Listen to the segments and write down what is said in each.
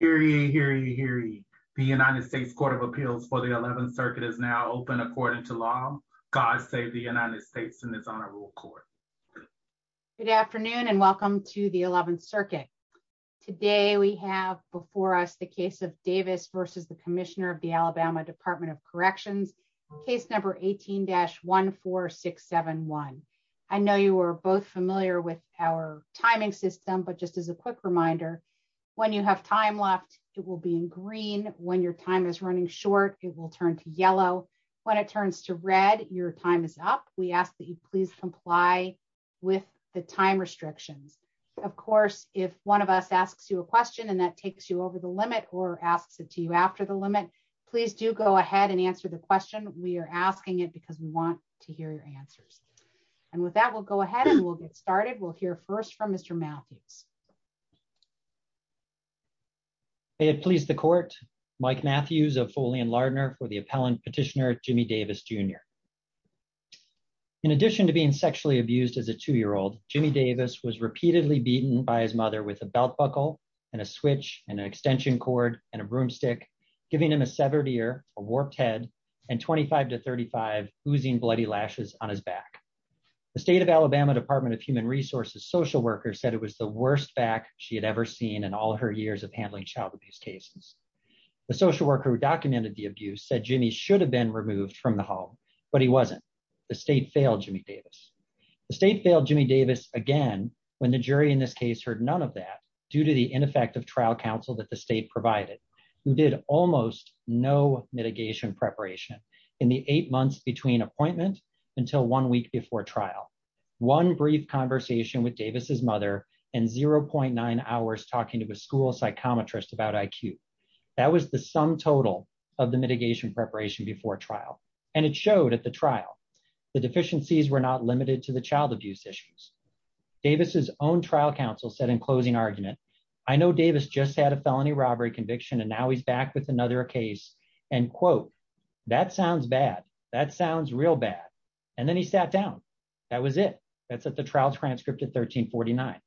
Hear ye, hear ye, hear ye. The United States Court of Appeals for the 11th Circuit is now open according to law. God save the United States in this honorable court. Good afternoon and welcome to the 11th Circuit. Today we have before us the case of Davis v. the Commissioner of the Alabama Department of Corrections, case number 18-14671. I know you are both familiar with our timing system, but just as a quick reminder, when you have time left, it will be in green. When your time is running short, it will turn to yellow. When it turns to red, your time is up. We ask that you please comply with the time restriction. Of course, if one of us asks you a question and that takes you over the limit or asks it to you after the limit, please do go ahead and answer the question. We are asking it because we want to hear your answer. We will get started. We will hear first from Mr. Matthews. May it please the court, Mike Matthews of Foley and Lardner for the appellant petitioner, Jimmy Davis, Jr. In addition to being sexually abused as a two-year-old, Jimmy Davis was repeatedly beaten by his mother with a belt buckle and a switch and an extension cord and a broomstick, giving him a severed ear, a warped head, and 25 to 35 oozing bloody lashes on his back. The state of Alabama Department of Human Resources social worker said it was the worst back she had ever seen in all her years of handling child abuse cases. The social worker who documented the abuse said Jimmy should have been removed from the home, but he wasn't. The state failed Jimmy Davis. The state failed Jimmy Davis again when the jury in this case heard none of that due to the ineffective trial counsel that the state provided, who did almost no mitigation preparation in the eight months between appointment until one week before trial, one brief conversation with Davis's mother, and 0.9 hours talking to a school psychometrist about IQ. That was the sum total of the mitigation preparation before trial, and it showed at the trial the deficiencies were not limited to the child abuse issues. Davis's own trial counsel said in closing argument, I know Davis just had a felony robbery conviction, and now he's back with another case, and quote, that sounds bad. That sounds real bad, and then he sat down. That was it. That's at the trial transcript at 1349,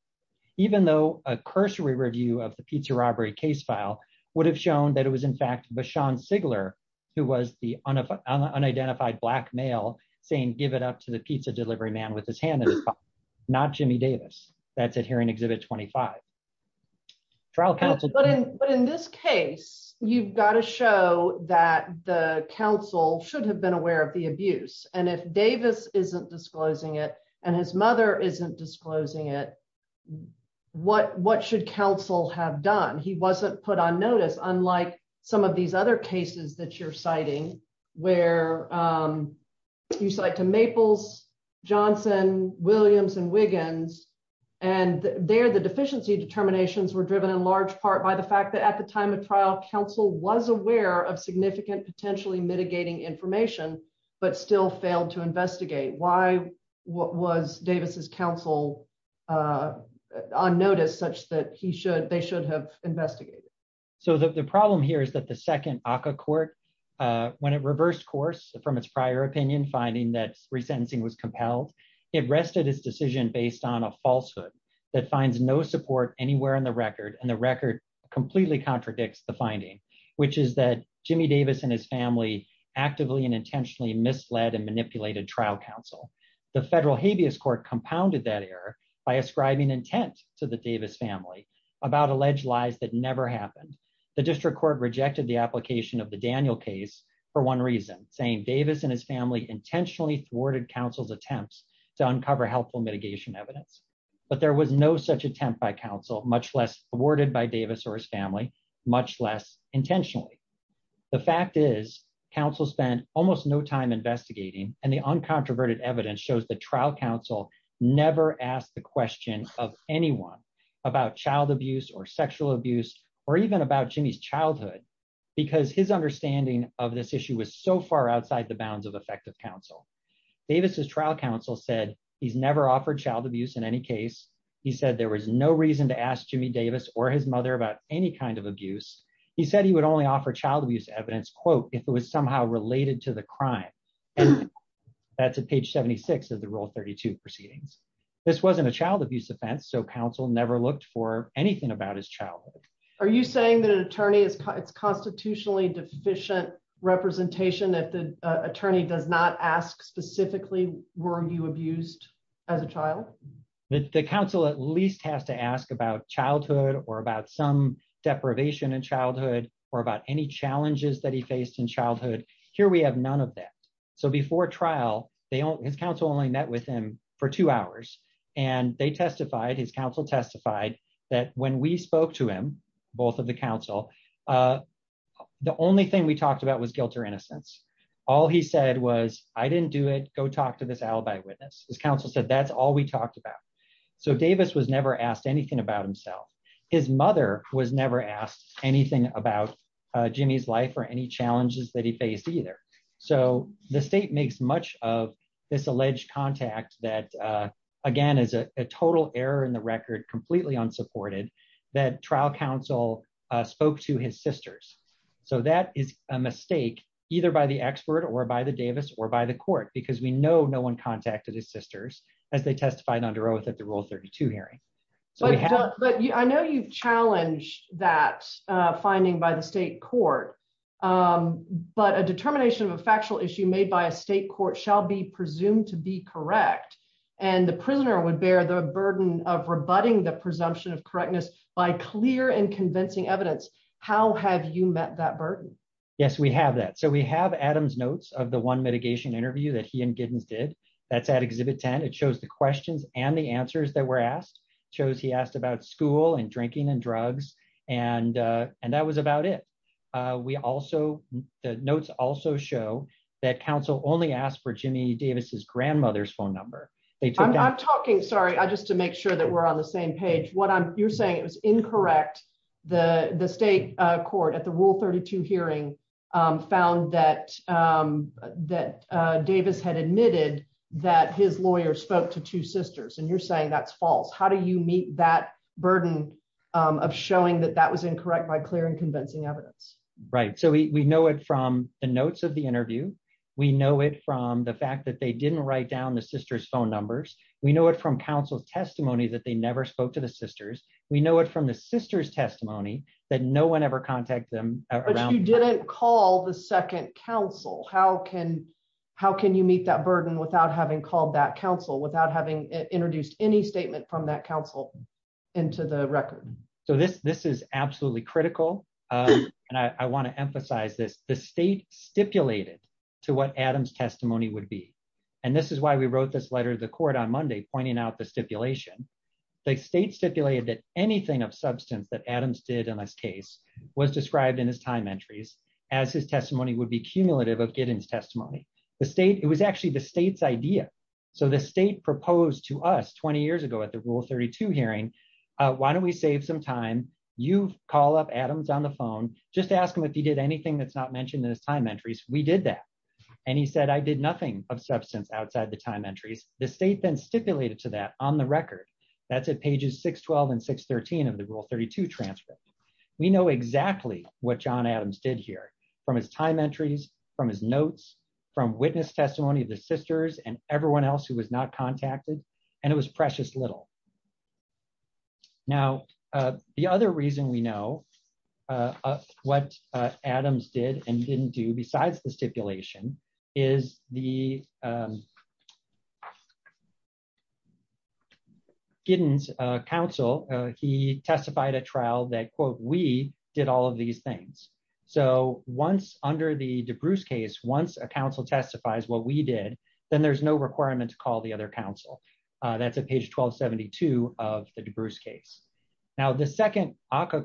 even though a cursory review of the pizza robbery case file would have shown that it was in fact Bashan Sigler who was the unidentified Black male saying give it up to the pizza delivery man with his hand in his pocket, not Jimmy Davis. That's it. In this case, you've got to show that the counsel should have been aware of the abuse, and if Davis isn't disclosing it and his mother isn't disclosing it, what should counsel have done? He wasn't put on notice, unlike some of these other cases that you're citing where you cite to Maples, Johnson, Williams, and Wiggins, and there the deficiency determinations were driven in large part by the fact that at the time of trial, counsel was aware of significant potentially mitigating information but still failed to investigate. Why was Davis's counsel on notice such that they should have investigated? The problem here is that the second ACCA court, when it reversed course from its prior opinion finding that resentencing was compelled, it rested its decision based on a falsehood that finds no support anywhere in the record, and the record completely contradicts the finding, which is that Jimmy Davis and his family actively and intentionally misled and manipulated trial counsel. The federal habeas court compounded that error by ascribing intent to the Davis family about alleged lies that never happened. The district court rejected the application of the Daniel case for one reason, saying Davis and his family intentionally thwarted counsel's attempts to uncover helpful mitigation evidence, but there was no such attempt by counsel, much less thwarted by Davis or his family, much less intentionally. The fact is, counsel spent almost no time investigating, and the uncontroverted evidence shows that trial counsel never asked the question of anyone about child abuse or sexual abuse or even about Jimmy's childhood because his understanding of this counsel. Davis's trial counsel said he's never offered child abuse in any case. He said there was no reason to ask Jimmy Davis or his mother about any kind of abuse. He said he would only offer child abuse evidence, quote, if it was somehow related to the crime, and that's at page 76 of the Rule 32 proceedings. This wasn't a child abuse offense, so counsel never looked for anything about his childhood. Are you saying that an attorney is constitutionally deficient representation that attorney does not ask specifically, were you abused as a child? The counsel at least has to ask about childhood or about some deprivation in childhood or about any challenges that he faced in childhood. Here we have none of that. So before trial, his counsel only met with him for two hours and they testified, his counsel testified, that when we spoke to him, both of the counsel, uh, the only thing we talked about was guilt or innocence. All he said was, I didn't do it, go talk to this alibi witness. His counsel said that's all we talked about. So Davis was never asked anything about himself. His mother was never asked anything about Jimmy's life or any challenges that he faced either. So the state makes much of this alleged contact that, uh, again is a total error in the his sisters. So that is a mistake either by the expert or by the Davis or by the court, because we know no one contacted his sisters as they testified under oath at the rule 32 hearing. But I know you've challenged that, uh, finding by the state court. Um, but a determination of a factual issue made by a state court shall be presumed to be correct. And the prisoner would burden of rebutting the presumption of correctness by clear and convincing evidence. How have you met that burden? Yes, we have that. So we have Adam's notes of the one mitigation interview that he and Giddens did that's at exhibit 10. It shows the questions and the answers that were asked shows he asked about school and drinking and drugs. And, uh, and that was about it. Uh, we also, the notes also show that counsel only asked for Jimmy Davis's make sure that we're on the same page. What you're saying is incorrect. The state court at the rule 32 hearing, um, found that, um, that, uh, Davis had admitted that his lawyer spoke to two sisters and you're saying that's false. How do you meet that burden of showing that that was incorrect by clear and convincing evidence? Right. So we know it from the notes of the interview. We know it from the fact that they didn't write down the sister's phone numbers. We know it from counsel's testimony that they never spoke to the sisters. We know it from the sister's testimony that no one ever contacted them. You didn't call the second council. How can, how can you meet that burden without having called that council without having introduced any statement from that council into the record? So this, this is absolutely critical. Um, and I want to emphasize this, the state stipulated to what Adam's testimony would be. And this is why we wrote this letter to the court on Monday, pointing out the stipulation. The state stipulated that anything of substance that Adams did in this case was described in his time entries as his testimony would be cumulative of getting his testimony. The state, it was actually the state's idea. So the state proposed to us 20 years ago at the rule 32 hearing, uh, why don't we save some time? You call up Adams on the phone, just ask him if he did anything that's not mentioned in his time entries. The state then stipulated to that on the record, that's at pages 612 and 613 of the rule 32 transcript. We know exactly what John Adams did here from his time entries, from his notes, from witness testimony, the sisters and everyone else who was not contacted. And it was precious little. Now, uh, the other reason we know, uh, what Adams did and didn't do besides the stipulation is the, um, Giddens, uh, counsel, uh, he testified at trial that quote, we did all of these things. So once under the DeBruce case, once a counsel testifies, what we did, then there's no requirement to call the other counsel. Uh, that's a page 1272 of the DeBruce case. Now the second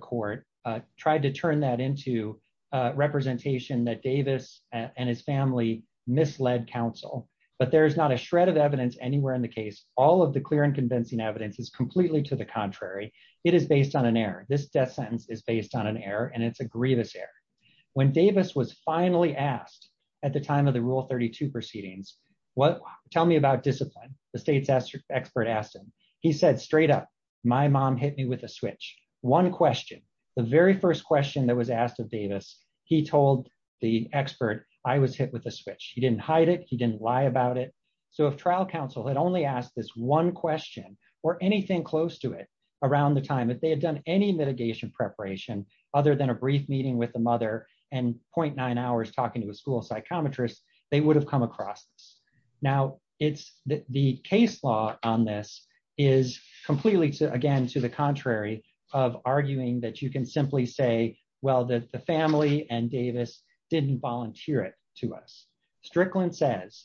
court, uh, tried to turn that into a representation that Davis and his family misled counsel, but there's not a shred of evidence anywhere in the case. All of the clear and convincing evidence is completely to the contrary. It is based on an error. This death sentence is based on an error and it's a grievous error. When Davis was finally asked at the time of the rule 32 proceedings, what tell me about discipline? The state's expert asked him, he said straight up, my mom hit me with a switch. One question, the very first question that was asked of Davis, he told the expert I was hit with a switch. He didn't hide it. He didn't lie about it. So if trial counsel had only asked this one question or anything close to it around the time that they had done any mitigation preparation, other than a brief meeting with the mother and 0.9 hours talking to a school psychometrist, they would have come across this. Now it's the case law on this is completely to, again, to the contrary of arguing that you can simply say, well, that the family and Davis didn't volunteer it to us. Strickland says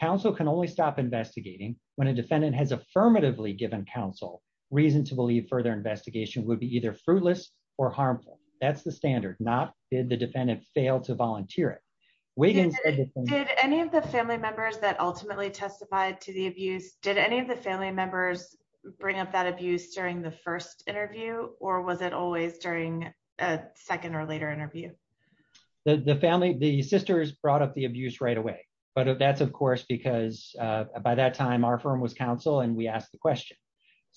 counsel can only stop investigating when a defendant has affirmatively given counsel reason to believe further investigation would be either fruitless or harmful. That's the standard, not did the defendant fail to volunteer it. Did any of the family members that ultimately testified to the abuse, did any of the family bring up that abuse during the first interview or was it always during a second or later interview? The family, the sisters brought up the abuse right away, but that's of course, because by that time our firm was counsel and we asked the question.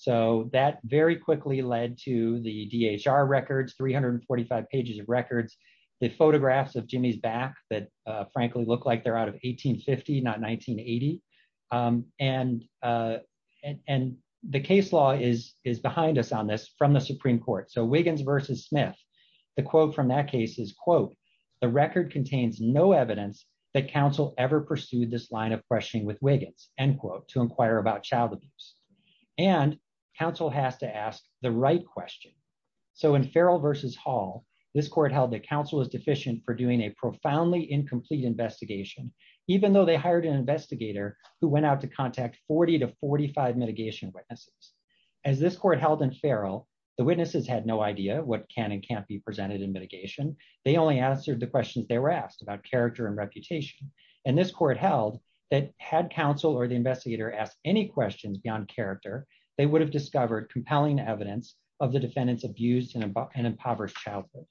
So that very quickly led to the DHR records, 345 pages of records, the photographs of Jimmy's back that frankly look like they're out of 1850, not and the case law is, is behind us on this from the Supreme court. So Wiggins versus Smith, the quote from that case is quote, the record contains no evidence that counsel ever pursued this line of questioning with Wiggins end quote, to inquire about child abuse and counsel has to ask the right question. So in Farrell versus Hall, this court held that counsel is deficient for doing a profoundly incomplete investigation, even though they hired an investigator who went out to contact 40 to 45 mitigation witnesses. As this court held in Farrell, the witnesses had no idea what can and can't be presented in mitigation. They only answered the questions they were asked about character and reputation. And this court held that had counsel or the investigator asked any questions beyond character, they would have discovered compelling evidence of the defendant's abuse and impoverished childhood.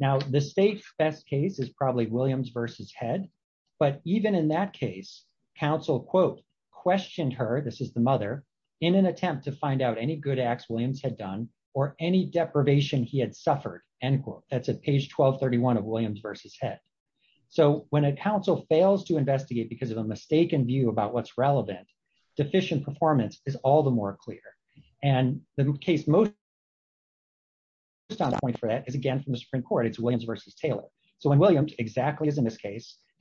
Now the safe best case is probably Williams versus Head, but even in that case, counsel quote, questioned her, this is the mother, in an attempt to find out any good acts Williams had done or any deprivation he had suffered, end quote. That's at page 1231 of Williams versus Head. So when a counsel fails to investigate because of a mistaken view about what's relevant, deficient performance is all the more clear. And the case most just on point for that is again from the Supreme court, it's Williams versus Taylor. So when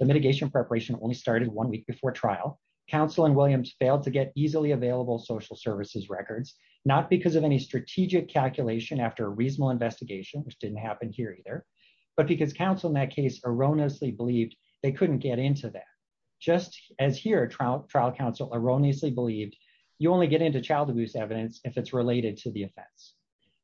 mitigation preparation only started one week before trial, counsel and Williams failed to get easily available social services records, not because of any strategic calculation after a reasonable investigation, which didn't happen here either, but because counsel in that case erroneously believed they couldn't get into that. Just as here trial trial counsel erroneously believed you only get into child abuse evidence if it's related to the offense.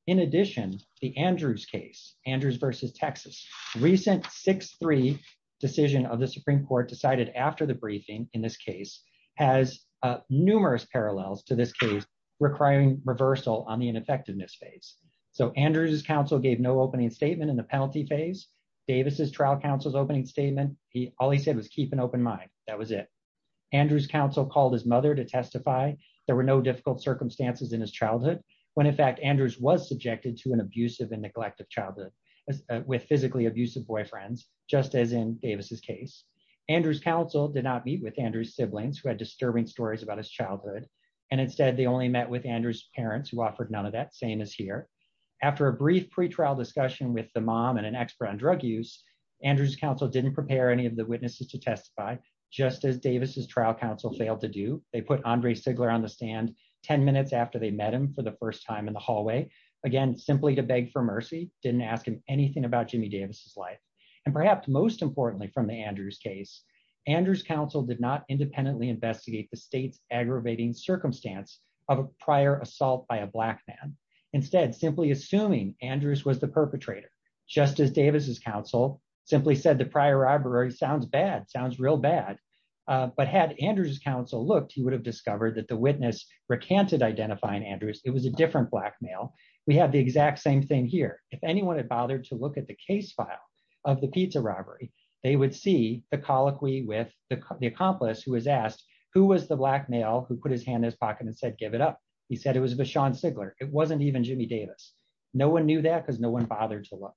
In addition, the Andrews case, Andrews versus Texas, recent 6-3 decision of the Supreme court decided after the briefing in this case has numerous parallels to this case requiring reversal on the ineffectiveness phase. So Andrews' counsel gave no opening statement in the penalty phase. Davis' trial counsel's opening statement, all he said was keep an open mind. That was it. Andrews' counsel called his mother to testify. There were no difficult circumstances in his childhood when in fact childhood with physically abusive boyfriends, just as in Davis' case. Andrews' counsel did not meet with Andrews' siblings who had disturbing stories about his childhood. And instead they only met with Andrews' parents who offered none of that, same as here. After a brief pre-trial discussion with the mom and an expert on drug use, Andrews' counsel didn't prepare any of the witnesses to testify just as Davis' trial counsel failed to do. They put Andre Figgler on the stand 10 minutes after they met him for the first time in the hallway. Again, simply to beg for mercy, didn't ask him anything about Jimmy Davis' life. And perhaps most importantly from the Andrews' case, Andrews' counsel did not independently investigate the state's aggravating circumstance of a prior assault by a black man. Instead, simply assuming Andrews was the perpetrator, just as Davis' counsel simply said the prior robbery sounds bad, sounds real bad. But had Andrews' counsel looked, he would have discovered that the witness recanted identifying Andrews. It was a different black male. We have the exact same thing here. If anyone had bothered to look at the case file of the pizza robbery, they would see a colloquy with the accomplice who was asked, who was the black male who put his hand in his pocket and said, give it up? He said it was Vashon Figgler. It wasn't even Jimmy Davis. No one knew that because no one bothered to look.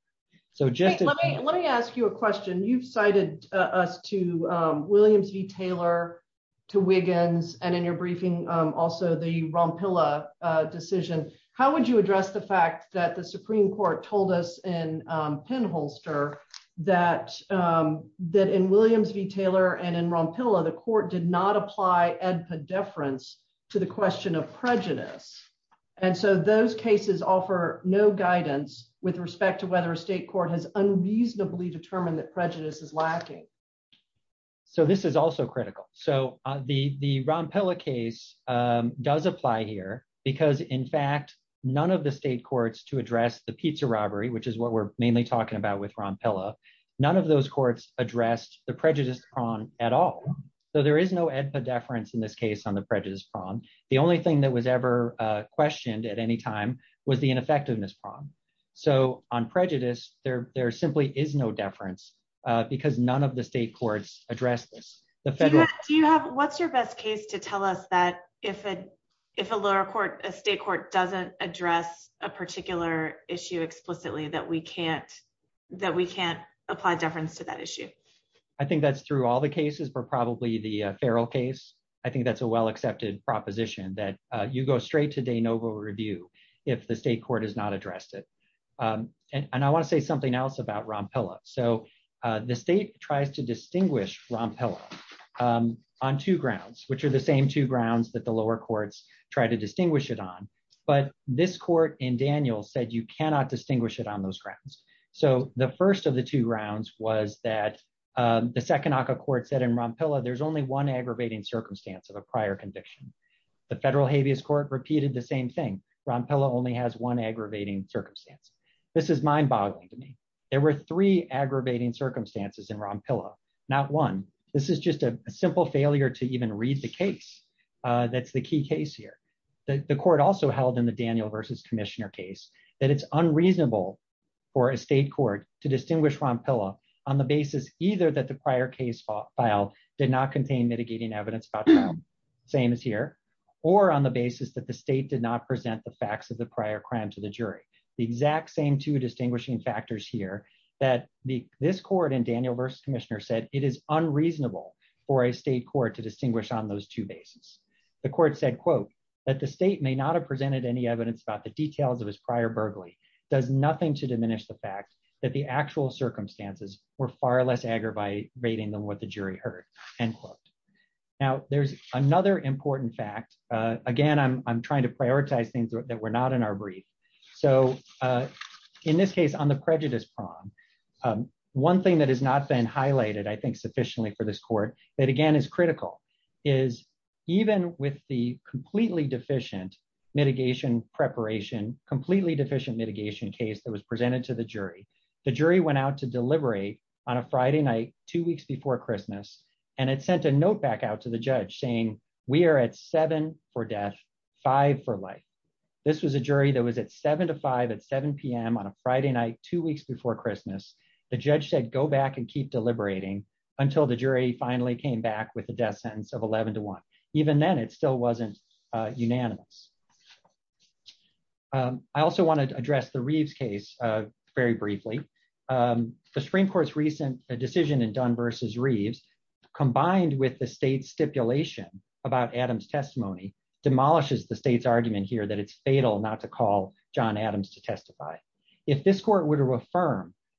Let me ask you a question. You've cited us to Williams v. Taylor, to Wiggins, and in your briefing also the Rompilla decision. How would you address the fact that the Supreme Court told us in Penholster that in Williams v. Taylor and in Rompilla, the court did not apply epidefference to the question of prejudice? And so those cases offer no guidance with respect to whether a state court has unreasonably determined that prejudice is lacking. So this is also critical. So the Rompilla case does apply here because in fact, none of the state courts to address the pizza robbery, which is what we're mainly talking about with Rompilla, none of those courts addressed the prejudice problem at all. So there is no epidefference in this case on the prejudice problem. The only thing that was ever questioned at any time was the ineffectiveness problem. So on prejudice, there simply is no deference because none of the state courts addressed this. What's your best case to tell us that if a lower court, a state court doesn't address a particular issue explicitly that we can't apply deference to that issue? I think that's through all the cases, but probably the Farrell case. I think that's a well-accepted proposition that you go straight to de novo review if the state court has not addressed it. And I want to say something else about Rompilla. So the state tries to distinguish Rompilla on two grounds, which are the same two grounds that the lower courts try to distinguish it on. But this court in Daniel said you cannot distinguish it on those grounds. So the first of the two rounds was that the Second Acre Court said in Rompilla, there's only one aggravating circumstance of a prior conviction. The Federal Habeas Court repeated the same thing. Rompilla only has one aggravating circumstance. This is mind-boggling to me. There were three aggravating circumstances in Rompilla, not one. This is just a simple failure to even read the that's the key case here. The court also held in the Daniel versus Commissioner case that it's unreasonable for a state court to distinguish Rompilla on the basis either that the prior case file did not contain mitigating evidence about crime, same as here, or on the basis that the state did not present the facts of the prior crime to the jury. The exact same two distinguishing factors here that this court in Daniel versus Commissioner said it is unreasonable for a state court to distinguish on those two bases. The court said, quote, that the state may not have presented any evidence about the details of his prior burglary, does nothing to diminish the fact that the actual circumstances were far less aggravating than what the jury heard, end quote. Now there's another important fact. Again, I'm trying to prioritize things that were not in our brief. So in this case on the prejudice problem, one thing that has not been highlighted, I think sufficiently for this court, that again is critical, is even with the completely deficient mitigation preparation, completely deficient mitigation case that was presented to the jury, the jury went out to deliberate on a Friday night, two weeks before Christmas, and it sent a note back out to the judge saying, we are at seven for death, five for life. This was a jury that was at seven to five at 7pm on a Friday night, two weeks before Christmas. The judge said go back and keep deliberating until the jury finally came back with a death sentence of 11 to 1. Even then it still wasn't unanimous. I also wanted to address the Reeves case very briefly. The Supreme Court's recent decision in Dunn versus Reeves, combined with the state's stipulation about Adams' testimony, demolishes the state's argument here that it's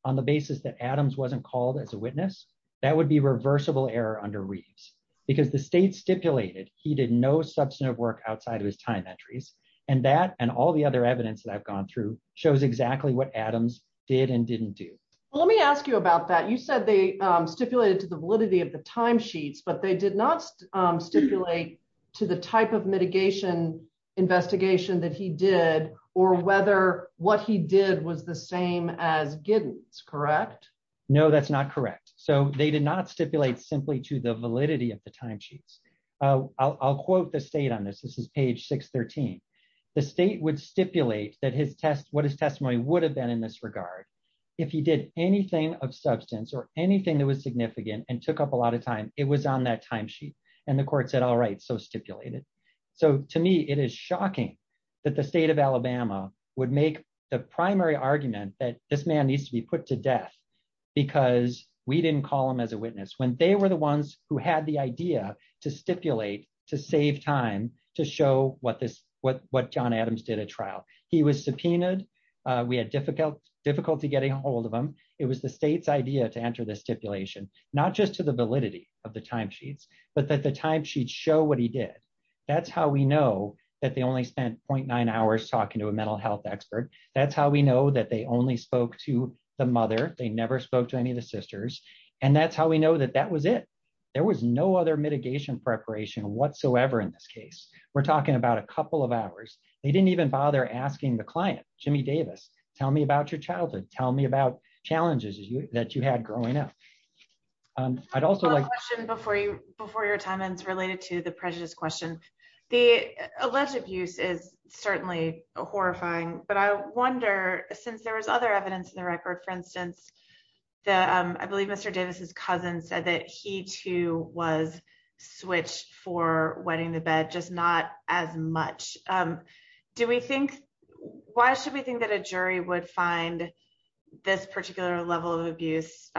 on the basis that Adams wasn't called as a witness, that would be reversible error under Reeves. Because the state stipulated he did no substantive work outside of his time entries, and that, and all the other evidence that I've gone through, shows exactly what Adams did and didn't do. Let me ask you about that. You said they stipulated to the validity of the timesheets, but they did not stipulate to the type of mitigation investigation that he did, or whether what he did was the same as Giddens, correct? No, that's not correct. So they did not stipulate simply to the validity of the timesheets. I'll quote the state on this. This is page 613. The state would stipulate that his test, what his testimony would have been in this regard. If he did anything of substance or anything that was significant and took up a lot of time, it was on that timesheet. And the court said, all right, so stipulate it. So to me, it is shocking that the state of Alabama would make the primary argument that this man needs to be put to death because we didn't call him as a witness, when they were the ones who had the idea to stipulate, to save time, to show what John Adams did at trial. He was subpoenaed. We had difficulty getting ahold of him. It was the state's idea to enter the stipulation, not just to the validity of the timesheets, but that the timesheets show what he did. That's how we know that the only 0.9 hours talking to a mental health expert. That's how we know that they only spoke to the mother. They never spoke to any of the sisters. And that's how we know that that was it. There was no other mitigation preparation whatsoever in this case. We're talking about a couple of hours. They didn't even bother asking the client, Jimmy Davis, tell me about your childhood. Tell me about challenges that you had growing up. I'd also like- Before your time ends, related to the prejudice questions, the alleged abuse is certainly horrifying, but I wonder, since there was other evidence in the record, for instance, that I believe Mr. Davis's cousin said that he too was switched for wedding to bed, just not as much. Why should we think that a jury would find this particular level of abuse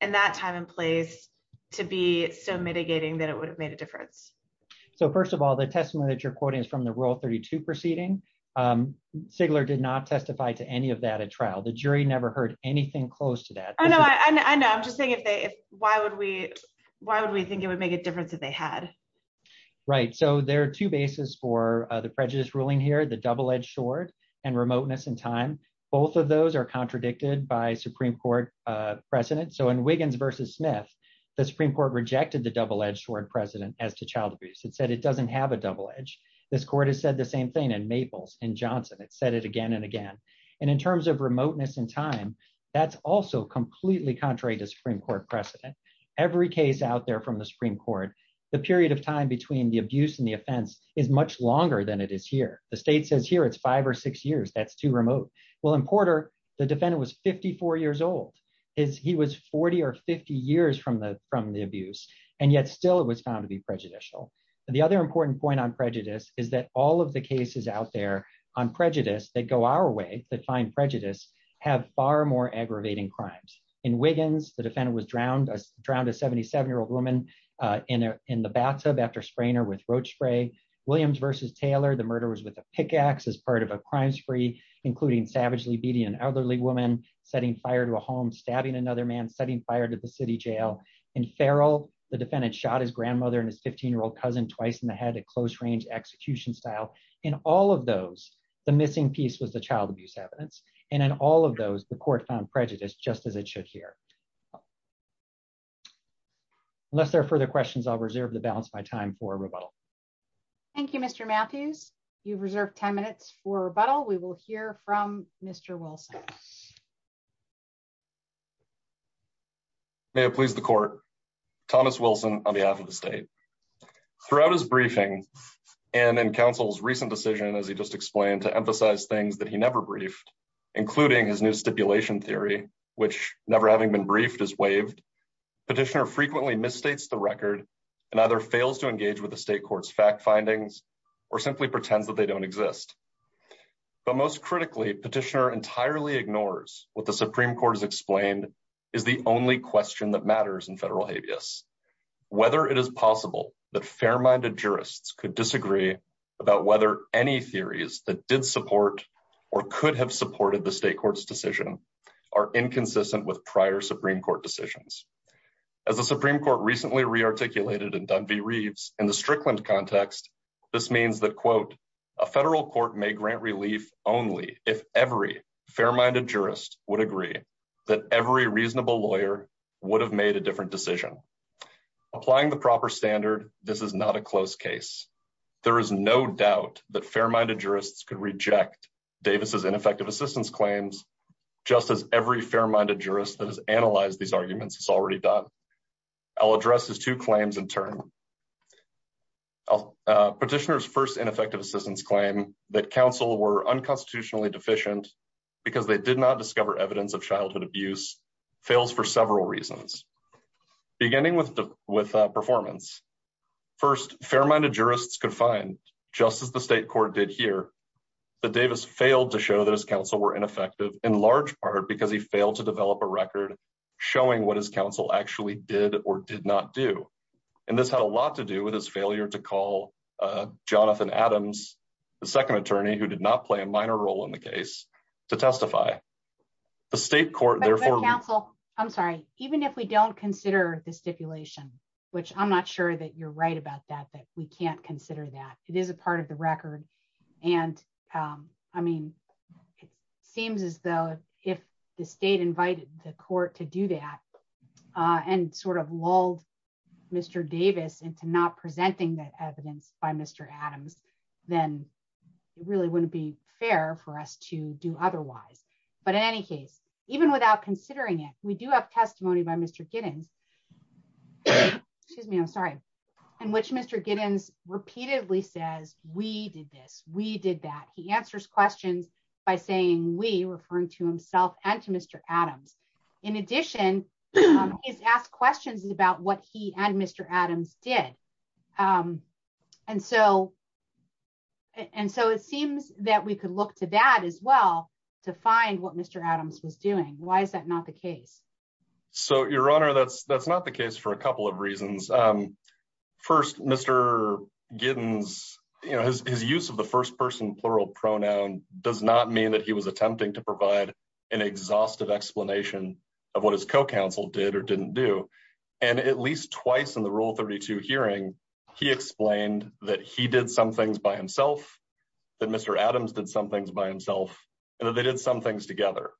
in that time and place to be so mitigating that it would have made a difference? So first of all, the testimony that you're quoting is from the Rule 32 proceeding. Sigler did not testify to any of that at trial. The jury never heard anything close to that. Oh, no. I know. I'm just saying, why would we think it would make a difference if they had? Right. So there are two bases for the prejudice ruling here, the double-edged sword and remoteness in time. Both of those are contradicted by Supreme Court precedent. So in Wiggins v. Smith, the Supreme Court rejected the double-edged sword precedent as to child abuse. It said it doesn't have a double edge. This court has said the same thing in Maples, in Johnson. It said it again and again. And in terms of remoteness in time, that's also completely contrary to Supreme Court precedent. Every case out there from the Supreme Court, the period of time between the abuse and the offense is much longer than it is here. The that's too remote. Well, in Porter, the defendant was 54 years old. He was 40 or 50 years from the abuse. And yet still, it was found to be prejudicial. The other important point on prejudice is that all of the cases out there on prejudice that go our way, that find prejudice, have far more aggravating crimes. In Wiggins, the defendant was drowned, a 77-year-old woman, in the bathtub after spraying her with roach spray. Williams v. Taylor, the murder was with pickaxe as part of a crime spree, including savagely beating an elderly woman, setting fire to a home, stabbing another man, setting fire to the city jail. In Farrell, the defendant shot his grandmother and his 15-year-old cousin twice in the head at close range execution style. In all of those, the missing piece was the child abuse evidence. And in all of those, the court found prejudice just as it should here. Unless there are further questions, I'll reserve the balance time for rebuttal. Thank you, Mr. Matthews. You've reserved 10 minutes for rebuttal. We will hear from Mr. Wilson. May it please the court. Thomas Wilson on behalf of the state. Throughout his briefing, and in counsel's recent decision, as he just explained, to emphasize things that he never briefed, including his new stipulation theory, which, never having been briefed, is to engage with the state court's fact findings or simply pretend that they don't exist. But most critically, petitioner entirely ignores what the Supreme Court has explained is the only question that matters in federal habeas. Whether it is possible that fair-minded jurists could disagree about whether any theories that did support or could have supported the state court's decision are inconsistent with prior Supreme Court decisions. As the Supreme Court re-articulated in the Strickland context, this means that, quote, a federal court may grant relief only if every fair-minded jurist would agree that every reasonable lawyer would have made a different decision. Applying the proper standard, this is not a closed case. There is no doubt that fair-minded jurists could reject Davis's ineffective assistance claims just as every fair-minded jurist that has analyzed these arguments has already done. I'll address his two claims in turn. Petitioner's first ineffective assistance claim, that counsel were unconstitutionally deficient because they did not discover evidence of childhood abuse, fails for several reasons, beginning with performance. First, fair-minded jurists could find, just as the state court did here, that Davis failed to show that his counsel were ineffective, in large part because he failed to develop a record showing what his counsel actually did or did not do. And this had a lot to do with his failure to call Jonathan Adams, the second attorney who did not play a minor role in the case, to testify. The state court therefore... But counsel, I'm sorry, even if we don't consider the stipulation, which I'm not sure that you're right about that, that we can't consider that, it is a part of the record. And I mean, it seems as though if the state invited the court to do that and sort of lulled Mr. Davis into not presenting that evidence by Mr. Adams, then it really wouldn't be fair for us to do otherwise. But in any case, even without considering it, we do have testimony by Mr. Giddens, excuse me, I'm sorry, in which Mr. Giddens repeatedly says, we did this, we did that. He answers questions by saying, we, referring to himself and to Mr. Adams. In addition, it's asked questions about what he and Mr. Adams did. And so it seems that we could look to that as well to find what Mr. Adams was doing. Why is that not the case? So, Your Honor, that's not the case for a couple of reasons. First, Mr. Giddens, his use of the first person plural pronoun does not mean that he was attempting to provide an exhaustive explanation of what his co-counsel did or didn't do. And at least twice in the Rule 32 hearing, he explained that he did some things by himself, that Mr. Adams did some things by himself, and that they did some things together.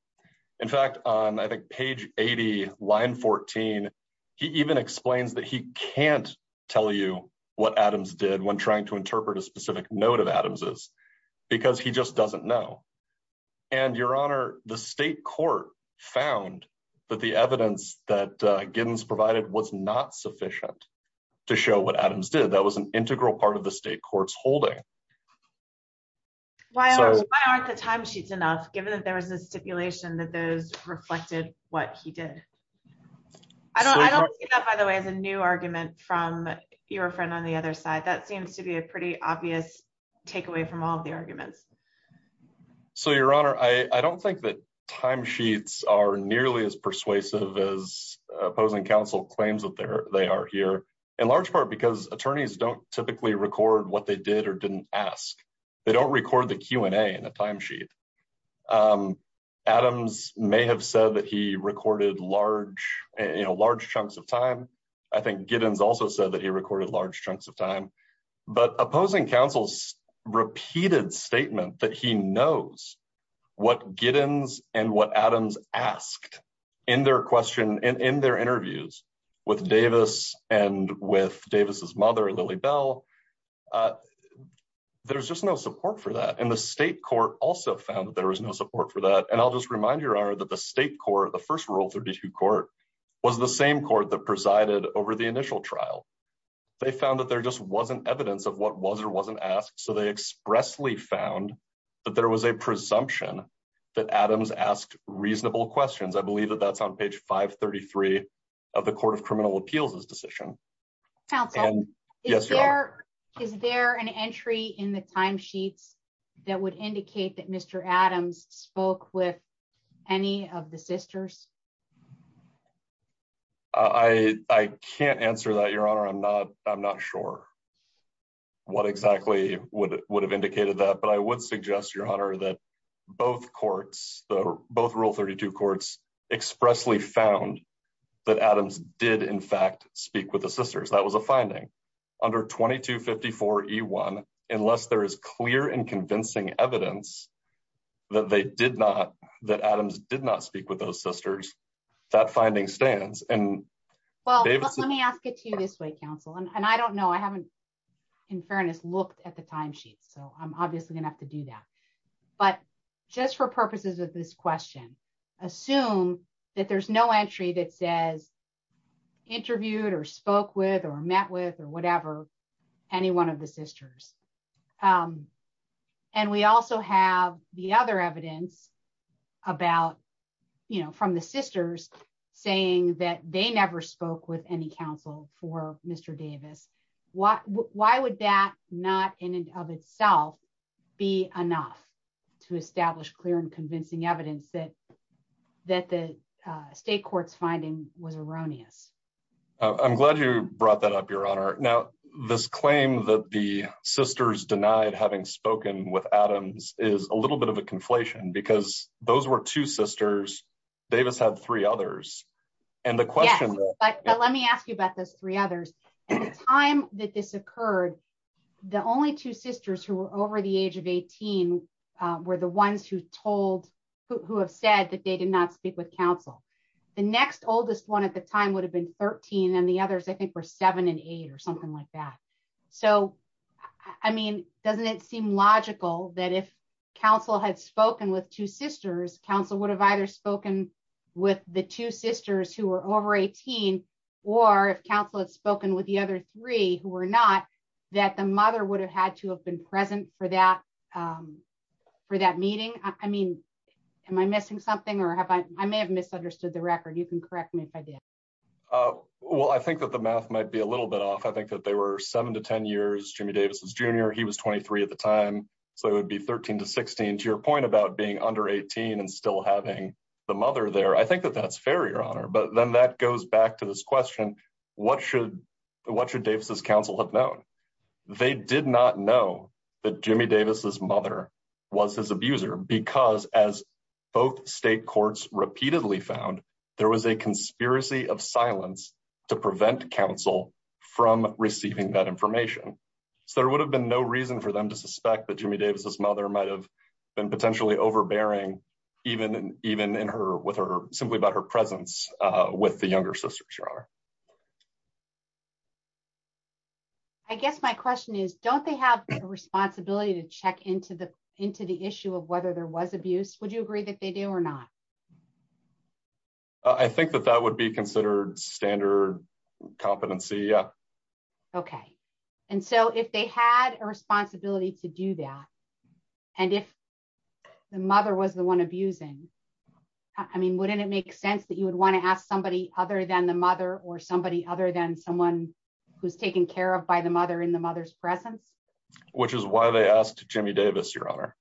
In fact, I think page 80, line 14, he even explains that he can't tell you what Adams did when trying to interpret a specific note of Adams's because he just doesn't know. And Your Honor, the state court found that the evidence that Giddens provided was not sufficient to show what Adams did. That was an integral part of the state court's holding. Why aren't the timesheets enough, given that there was no stipulation that those reflected what he did? I don't think that, by the way, is a new argument from your friend on the other side. That seems to be a pretty obvious takeaway from all of the arguments. So, Your Honor, I don't think that timesheets are nearly as persuasive as opposing counsel claims that they are here, in large part because attorneys don't typically record what they did or didn't ask. They don't record the Q&A in a timesheet. Adams may have said that he recorded large chunks of time. I think Giddens also said that he recorded large chunks of time. But opposing counsel's repeated statement that he knows what Giddens and what Adams asked in their question and in their interviews with Davis and with Davis's mother, Lily Bell, there's just no support for that. And the state court also found that there was no support for that. And I'll just remind Your Honor that the state court, the first rule of third district court, was the same court that presided over the initial trial. They found that there just wasn't evidence of what was or wasn't asked, so they expressly found that there was a presumption that Adams asked reasonable questions. I believe that that's on page 533 of the Court of Criminal Appeals' decision. Is there an entry in the timesheet that would indicate that Mr. Adams spoke with any of the sisters? I can't answer that, Your Honor. I'm not sure what exactly would have indicated that, but I would suggest, Your Honor, that both courts, both Rule 32 courts, expressly found that Adams did, in fact, speak with the sisters. That was a finding. Under 2254E1, unless there is clear and convincing evidence that they did not, that Adams did not speak with those sisters, that finding stands. Well, let me ask it to you this way, counsel. And I don't know, in fairness, I haven't looked at the timesheet, so I'm obviously going to have to do that. But just for purposes of this question, assume that there's no entry that says interviewed or spoke with or met with or whatever any one of the sisters. And we also have the other evidence about, you know, from the sisters saying that they never spoke with any counsel for Mr. Davis. Why would that not in and of itself be enough to establish clear and convincing evidence that the state court's finding was erroneous? I'm glad you brought that up, Your Honor. Now, this claim that the sisters denied having spoken with Adams is a little bit of a conflation, because those were two sisters. Davis had three others. And the question is... Yeah, but let me ask you about those three others. At the time that this occurred, the only two sisters who were over the age of 18 were the ones who have said that they did not speak with counsel. The next oldest one at the time would have been 13, and the others, I think, were seven and eight or something like that. So, I mean, doesn't it seem logical that if counsel had spoken with two sisters, counsel would have either spoken with the two sisters who were over 18, or if counsel had spoken with the other three who were not, that the mother would have had to have been present for that meeting? I mean, am I missing something, or have I... I may have misunderstood the record. You can correct me if I did. Well, I think that the math might be a little bit off. I think that they were seven to 10 years, Jimmy Davis was junior. He was 23 at the time. So it would be 13 to 16. To your point about being under 18 and still having the mother there, I think that that's fair, Your Honor. But then that goes back to this question, what should Davis's counsel have known? They did not know that Jimmy Davis's mother was his abuser because, as both state courts repeatedly found, there was a conspiracy of silence to prevent counsel from receiving that information. So there would have been no reason for them to suspect that Jimmy Davis's mother might have been potentially overbearing, simply about her presence with the younger sister, Your Honor. I guess my question is, don't they have the responsibility to check into the issue of whether there was abuse? Would you agree that they do or not? I think that that would be considered standard competency. Yeah. Okay. And so if they had a responsibility to do that and if the mother was the one abusing, I mean, wouldn't it make sense that you would want to ask somebody other than the mother or somebody other than someone who's taken care of by the mother in the mother's presence? Which is why they asked Jimmy Davis, Your Honor.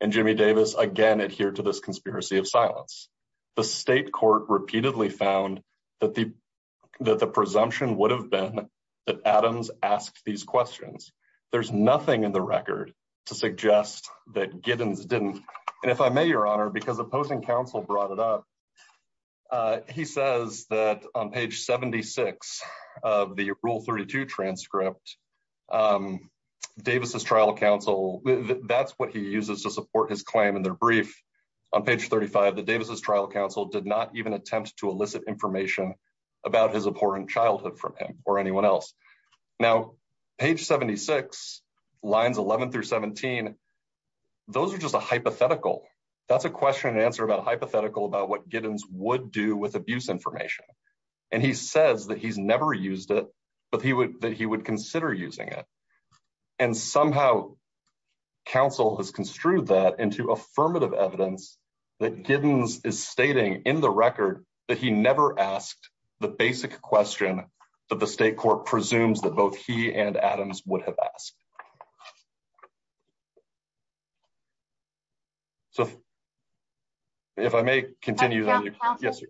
And Jimmy Davis, again, adhered to this conspiracy of silence. The state court repeatedly found that the presumption would have been that Adams asked these questions. There's nothing in the record to suggest that Giddens didn't. And if I may, Your Honor, because opposing counsel brought it up, he says that on page 76 of the Rule 32 transcript, Davis's trial counsel, that's what he uses to support his claim in their brief. On page 35, the Davis's trial counsel did not even attempt to elicit information about his abhorrent childhood from him or anyone else. Now, page 76, lines 11 through 17, those are just a hypothetical. That's a question and answer about a hypothetical about what Giddens would do with abuse information. And he says that he's never used it, but that he would consider using it. And somehow, counsel has construed that into affirmative evidence that Giddens is stating in the record that he never asked the basic question that the state court presumes that both he and Adams would have asked. So if I may continue that. Yes.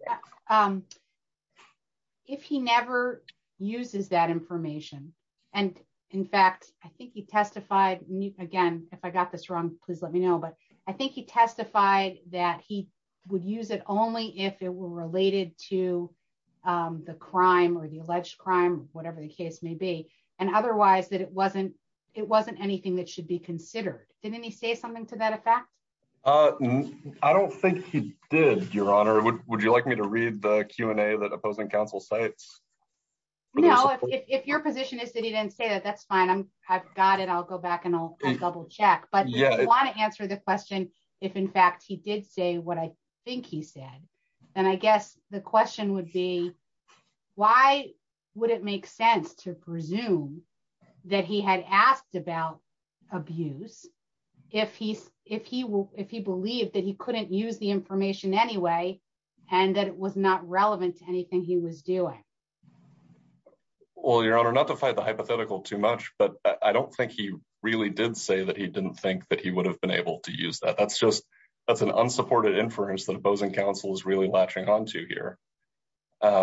If he never uses that information. And in fact, I think he testified, again, if I got this wrong, please let me know. But I think he testified that he would use it only if it were related to the crime or the alleged crime, whatever the case may be. And otherwise that it wasn't, it wasn't anything that should be considered. Didn't he say something to that effect? I don't think he did, Your Honor. Would you like me to read the Q&A that opposing counsel sites? No, if your position is that he didn't say that, that's fine. I'm I've got it. I'll go back and I'll double check. But yeah, I want to answer the question. If in fact he did say what I think he said, then I guess the question would be, why would it make sense to presume that he had asked about abuse if he, if he will, if he believed that he couldn't use the information anyway, and that it was not relevant to anything he was doing? Well, Your Honor, not to fight the hypothetical too much, but I don't think he really did say that he didn't think that he would have been able to use that. That's just, that's an unsupported inference that opposing counsel is really lashing onto here. I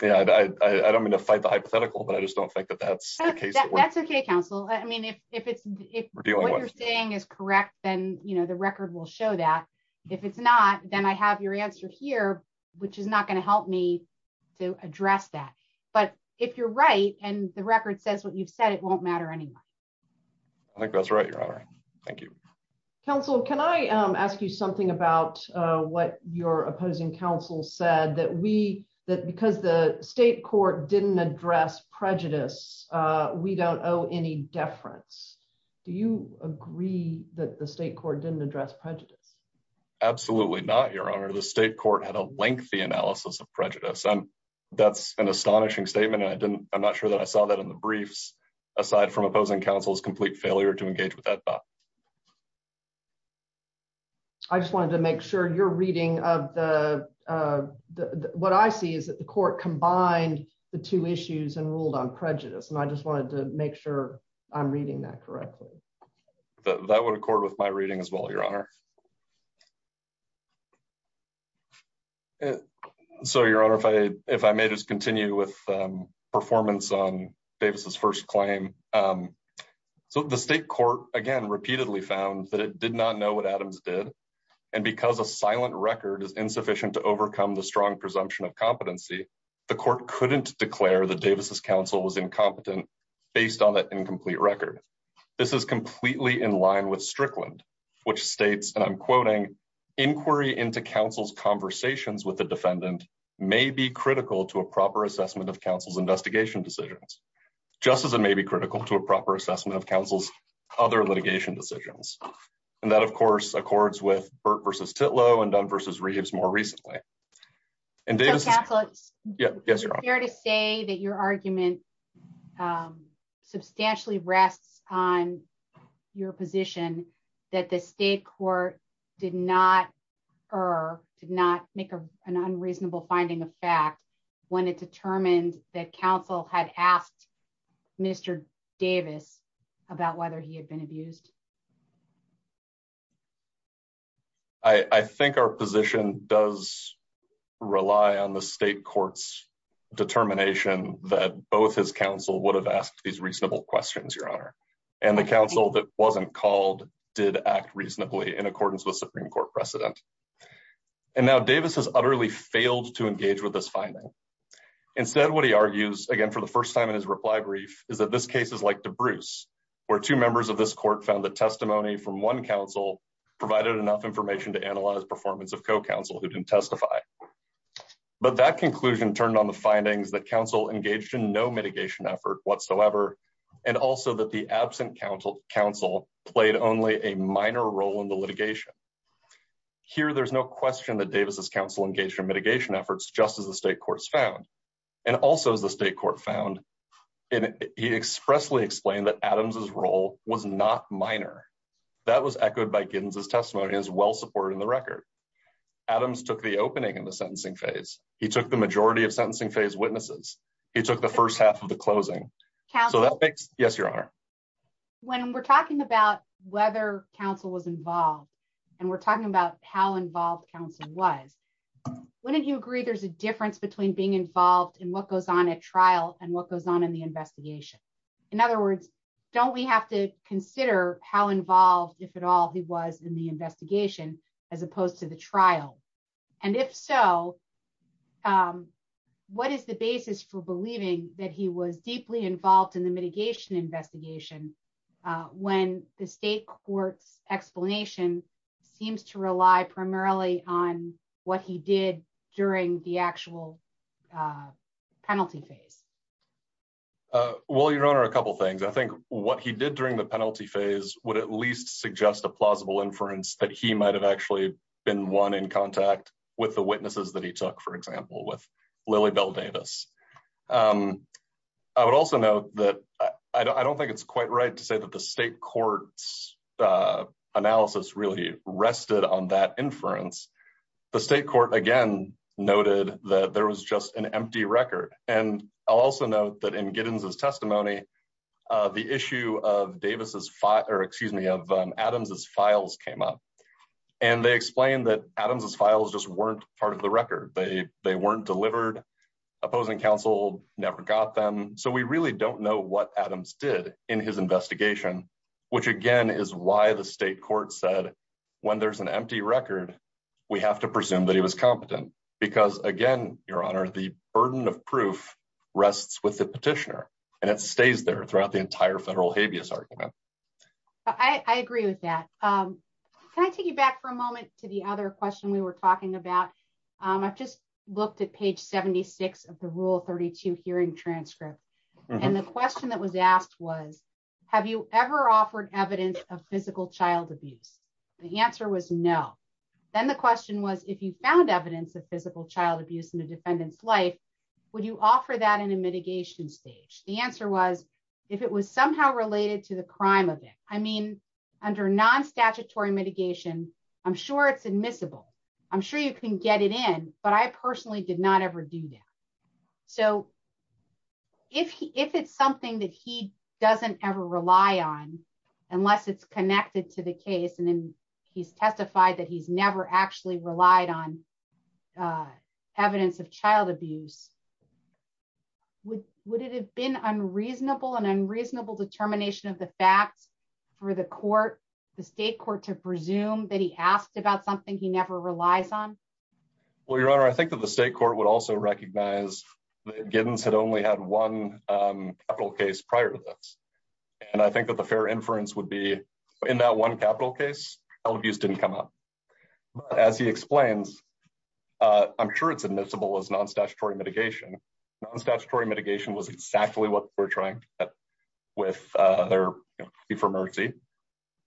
don't mean to fight the hypothetical, but I just don't think that that's the case. That's okay, counsel. I mean, if what you're saying is correct, then, you know, the record will show that. If it's not, then I have your answer here, which is not going to help me to address that. But if you're right, and the record says what you've said, it won't matter anyway. I think that's right, Your Honor. Thank you. Counsel, can I ask you something about what your opposing counsel said, that we, that because the state court didn't address prejudice, we don't owe any deference. Do you agree that the state court didn't address prejudice? Absolutely not, Your Honor. The state court had a lengthy analysis of prejudice. That's an opposing counsel's complete failure to engage with that thought. I just wanted to make sure your reading of the, what I see is that the court combined the two issues and ruled on prejudice. And I just wanted to make sure I'm reading that correctly. That would accord with my reading as well, Your Honor. So, Your Honor, if I, if I may just continue with performance on Davis's first claim. So, the state court, again, repeatedly found that it did not know what Adams did. And because a silent record is insufficient to overcome the strong presumption of competency, the court couldn't declare that Davis's counsel was incompetent based on that incomplete record. This is completely in line with Strickland, which states that Davis's counsel was incompetent and I'm quoting, inquiry into counsel's conversations with the defendant may be critical to a proper assessment of counsel's investigation decisions, just as it may be critical to a proper assessment of counsel's other litigation decisions. And that, of course, accords with Burt v. Titlow and Dunn v. Reeves more recently. So, Counselor, is it fair to say that your argument substantially rests on your position that the state court did not, or did not make an unreasonable finding of fact when it determined that counsel had asked Mr. Davis about whether he had been abused? I think our position does rely on the state court's determination that both his counsel would have asked these reasonable questions, Your Honor, and the counsel that wasn't called did act reasonably in accordance with Supreme Court precedent. And now Davis has utterly failed to engage with this finding. Instead, what he argues, again, for the first time in his reply brief, is that this case is like DeBruce, where two members of this court found that testimony from one counsel provided enough information to analyze performance of co-counsel who didn't testify. But that conclusion turned on the findings that counsel engaged in no mitigation effort whatsoever, and also that the absent counsel played only a minor role in the litigation. Here, there's no question that Davis' counsel engaged in mitigation efforts, just as the state courts found, and also as the state court found. And he expressly explained that Adams' role was not minor. That was echoed by Giddens' testimony and is well-supported in the record. Adams took the opening in the sentencing phase. He took the majority of the proceedings. He took the first half of the closing. So that makes... Yes, Your Honor? When we're talking about whether counsel was involved, and we're talking about how involved counsel was, wouldn't you agree there's a difference between being involved in what goes on at trial and what goes on in the investigation? In other words, don't we have to consider how involved, if at all, he was in the investigation as opposed to the trial? And if so, what is the basis for believing that he was deeply involved in the mitigation investigation when the state court explanation seems to rely primarily on what he did during the actual penalty phase? Well, Your Honor, a couple of things. I think what he did during the penalty phase would at least suggest a plausible inference that he might have actually been one in contact with the witnesses that he took, for example, with Lily Bell Davis. I would also note that I don't think it's quite right to say that the state court's analysis really rested on that inference. The state court, again, noted that there was just an empty record. And I'll also note that in Giddens' testimony, the issue of Adams' files came up. And they explained that Adams' files just weren't part of the record. They weren't delivered. Opposing counsel never got them. So we really don't know what Adams did in his investigation, which, again, is why the state court said when there's an empty record, we have to presume that he was competent. Because, again, Your Honor, the burden of proof rests with the petitioner. And it stays there throughout the entire federal habeas argument. I agree with that. Can I take you back for a moment to the other question we were talking about? I just looked at page 76 of the Rule 32 hearing transcript. And the question that was asked was, have you ever offered evidence of physical child abuse? The answer was no. Then the question was, if you found evidence of physical child abuse in the defendant's life, would you offer that in a mitigation stage? The answer was, if it was somehow related to the crime of it. I mean, under non-statutory mitigation, I'm sure it's admissible. I'm sure you can get it in. But I personally did not ever do that. So if it's something that he doesn't ever rely on, unless it's connected to the case, and then he's testified that he's never actually relied on evidence of child abuse, would it have been unreasonable, an unreasonable determination of the fact for the court, the state court to presume that he asked about something he never relies on? Well, Your Honor, I think that the state court would also recognize that Giddens had only had one capital case prior to this. And I think that the fair inference would be in that one capital case, child abuse didn't come up. But as he explains, I'm sure it's admissible as non-statutory mitigation. Non-statutory mitigation was exactly what we're trying to get with their plea for mercy,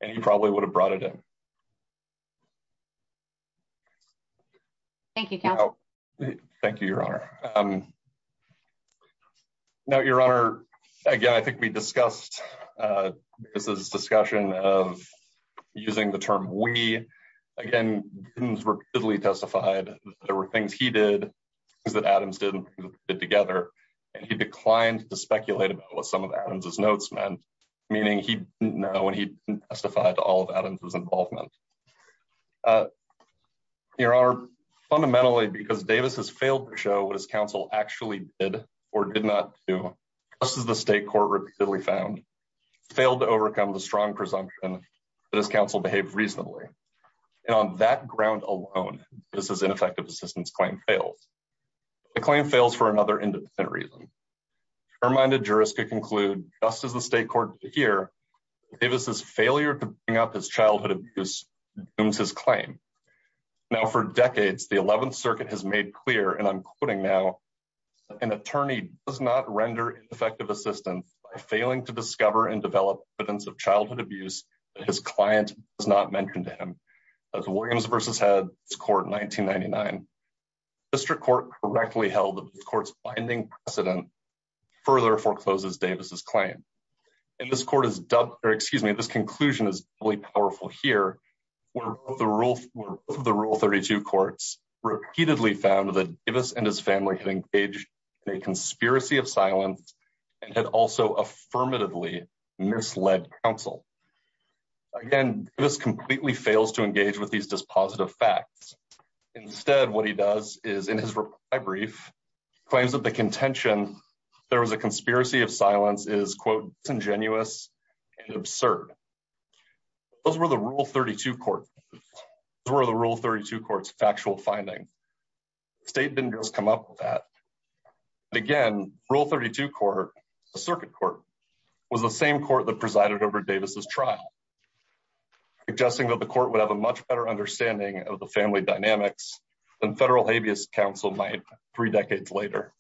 and he probably would have brought it in. Thank you, Kevin. Thank you, Your Honor. Now, Your Honor, again, I think we discussed this discussion of using the term we, again, Giddens rapidly testified there were things he did that Adams didn't put together, and he declined to speculate about what some of Adams' notes meant, meaning he didn't know and he didn't testify to all of Adams' involvement. Your Honor, fundamentally, because Davis has failed to show what his counsel actually did or did not do, this is the state court repeatedly found, failed to overcome the strong presumption that his counsel behaved reasonably. And on that ground alone, this is ineffective assistance fails. The claim fails for another independent reason. Our minded jurists conclude, just as the state court did here, Davis' failure to bring up his childhood abuse doomed his claim. Now, for decades, the 11th Circuit has made clear, and I'm quoting now, that an attorney does not render effective assistance by failing to discover and develop evidence of childhood abuse that his district court correctly held that the court's binding precedent further forecloses Davis' claim. And this conclusion is really powerful here, where both of the Rule 32 courts repeatedly found that Davis and his family had engaged in a conspiracy of silence and had also affirmatively misled counsel. Again, Davis completely fails to engage with these dispositive facts. Instead, what he does is, in his brief, claims that the contention there was a conspiracy of silence is, quote, congenuous and absurd. Those were the Rule 32 courts' factual findings. State vendors come up with that. Again, Rule 32 court, the circuit court, was the same court that presided over Davis' trial, suggesting that the court would have a much better understanding of the family dynamics than federal habeas counsel might three decades later.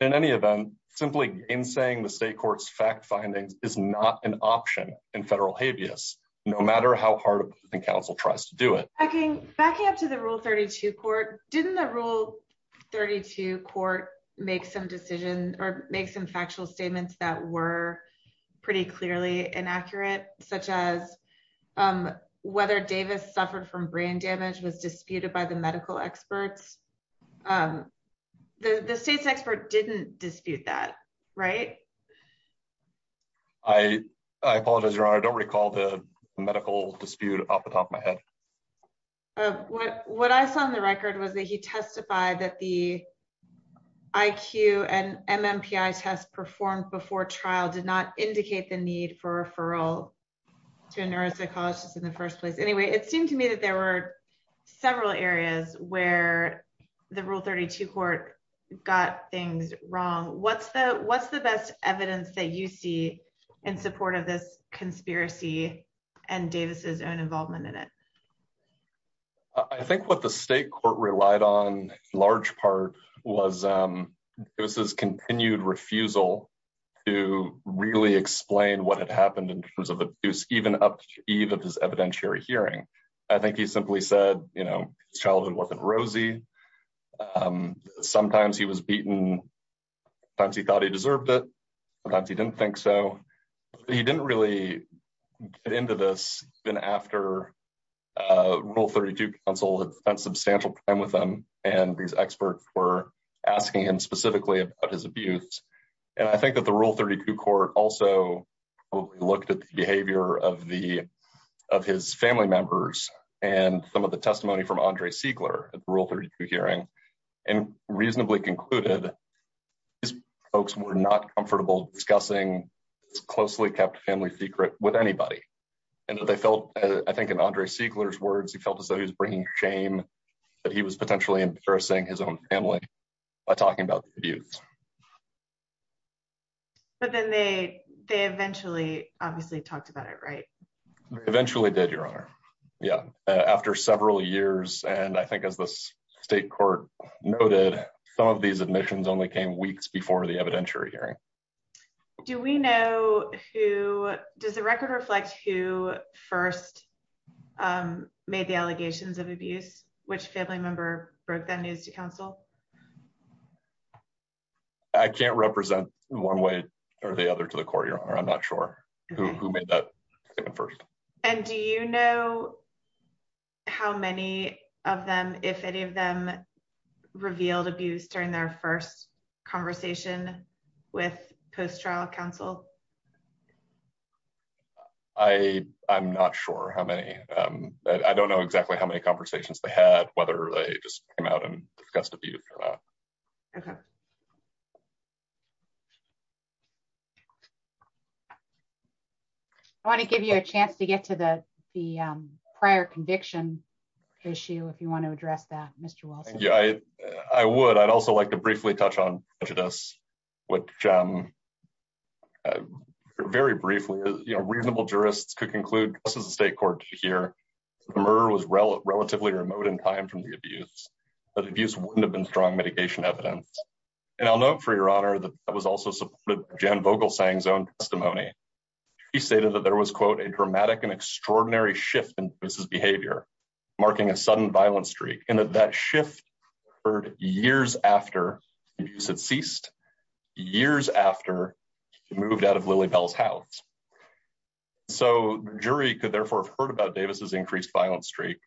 In any event, simply game-saying the state court's fact-finding is not an option in federal habeas, no matter how hard the counsel tries to do it. Backing up to the Rule 32 court, didn't the Rule 32 court make some decisions or make some factual statements that were pretty clearly inaccurate, such as whether Davis suffered from brain damage was disputed by the medical experts? The state expert didn't dispute that, right? I apologize, Your Honor. I don't recall the medical dispute off the top of my head. What I saw on the record was that he testified that the IQ and MMPI test performed before trial did not indicate the need for referral to a nurse, I thought, in the first place. Anyway, it seemed to me that there were several areas where the Rule 32 court got things wrong. What's the best evidence that you see in support of this conspiracy and Davis' own involvement in it? I think what the state court relied on, large part, was Davis' continued refusal to really explain what had happened in terms of abuse, even up to the eve of his evidentiary hearing. I think he simply said, you know, his childhood wasn't rosy. Sometimes he was beaten. Sometimes he thought he deserved it. Sometimes he didn't think so. He didn't really get into this until after Rule 32 counsel had spent substantial time with him and these experts were asking him specifically about his abuse. I think that the Rule 32 court also looked at the behavior of his family members and some of the testimony from Andre Siegler at the Rule 32 hearing and reasonably concluded these folks were not comfortable discussing this closely-kept family secret with anybody. I think in Andre Siegler's words, he felt as though he was bringing shame that he was potentially embarrassing his own family by talking about the abuse. But then they eventually, obviously, talked about it, right? Eventually did, Your Honor. Yeah. After several years, and I think as the state court noted, some of these admissions only came weeks before the evidentiary hearing. Do we know who, does the record reflect who first made the allegations of abuse? Which family member brought that news to counsel? I can't represent one way or the other to the court, Your Honor. I'm not sure who made that statement first. Do you know how many of them, if any of them revealed abuse during their first conversation with post-trial counsel? I'm not sure how many. I don't know exactly how many conversations they had, whether they just came out and discussed abuse or not. Okay. I want to give you a chance to get to the prior conviction issue if you want to address that, Mr. Walton. Yeah, I would. I'd also like to briefly touch on prejudice, which very briefly, reasonable jurists could conclude, this is a state court to hear, the murderer was relatively remote in time from the abuse, but abuse wouldn't have been strong mitigation evidence. And I'll note for Your Honor that that was also supported by Jan Vogelsang's own testimony. She stated that there was, quote, a dramatic and extraordinary shift in his behavior, marking a sudden violent streak, and that that shift occurred years after abuse had ceased, years after he moved out of Lily Bell's house. So the jury could therefore have heard about Davis's increased violent streak,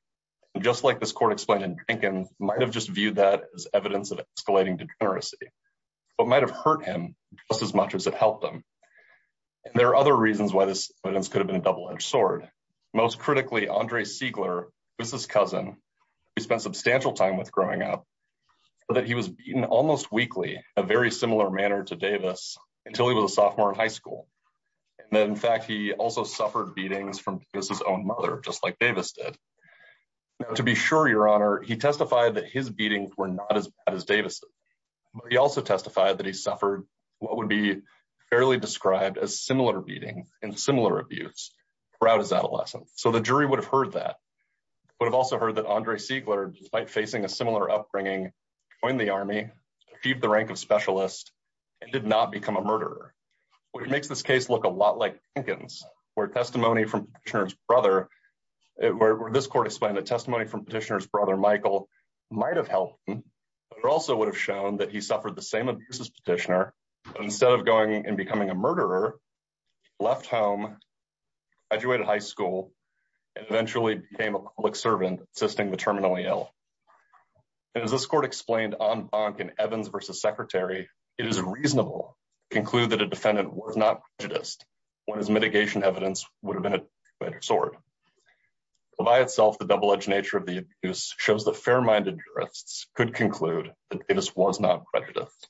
and just like this court explained in Dinkin, might have just viewed that as evidence of escalating degeneracy, but might have hurt him just as much as it helped them. And there are other reasons why this could have been a double-edged sword. Most critically, Andre Siegler, Davis's cousin, who he spent substantial time with growing up, that he was beaten almost weekly in a very similar manner to Davis until he was a sophomore in high school. And in fact, he also suffered beatings from Davis's own mother, just like Davis did. To be sure, Your Honor, he testified that his beatings were not as bad as Davis's, but he also testified that he suffered what would be fairly described as similar beating and similar abuse throughout his adolescence. So the jury would have heard that, but also heard that Andre Siegler, despite facing a similar upbringing, joined the Army, defeated the rank of specialist, and did not become a murderer. Which makes this case look a lot like Dinkin's, where testimony from Petitioner's brother, where this court explained that testimony from Petitioner's brother, Michael, might have helped him, but also would have shown that he suffered the same abuse as Petitioner, but instead of going and becoming a murderer, left home, graduated high school, and eventually became a public servant assisting the terminally ill. As this court explained on Bonk in Evans v. Secretary, it is reasonable to conclude that a defendant was not prejudiced, whereas mitigation evidence would have been a better sword. By itself, the double-edged nature of the abuse shows that fair-minded jurists could conclude that Davis was not prejudiced.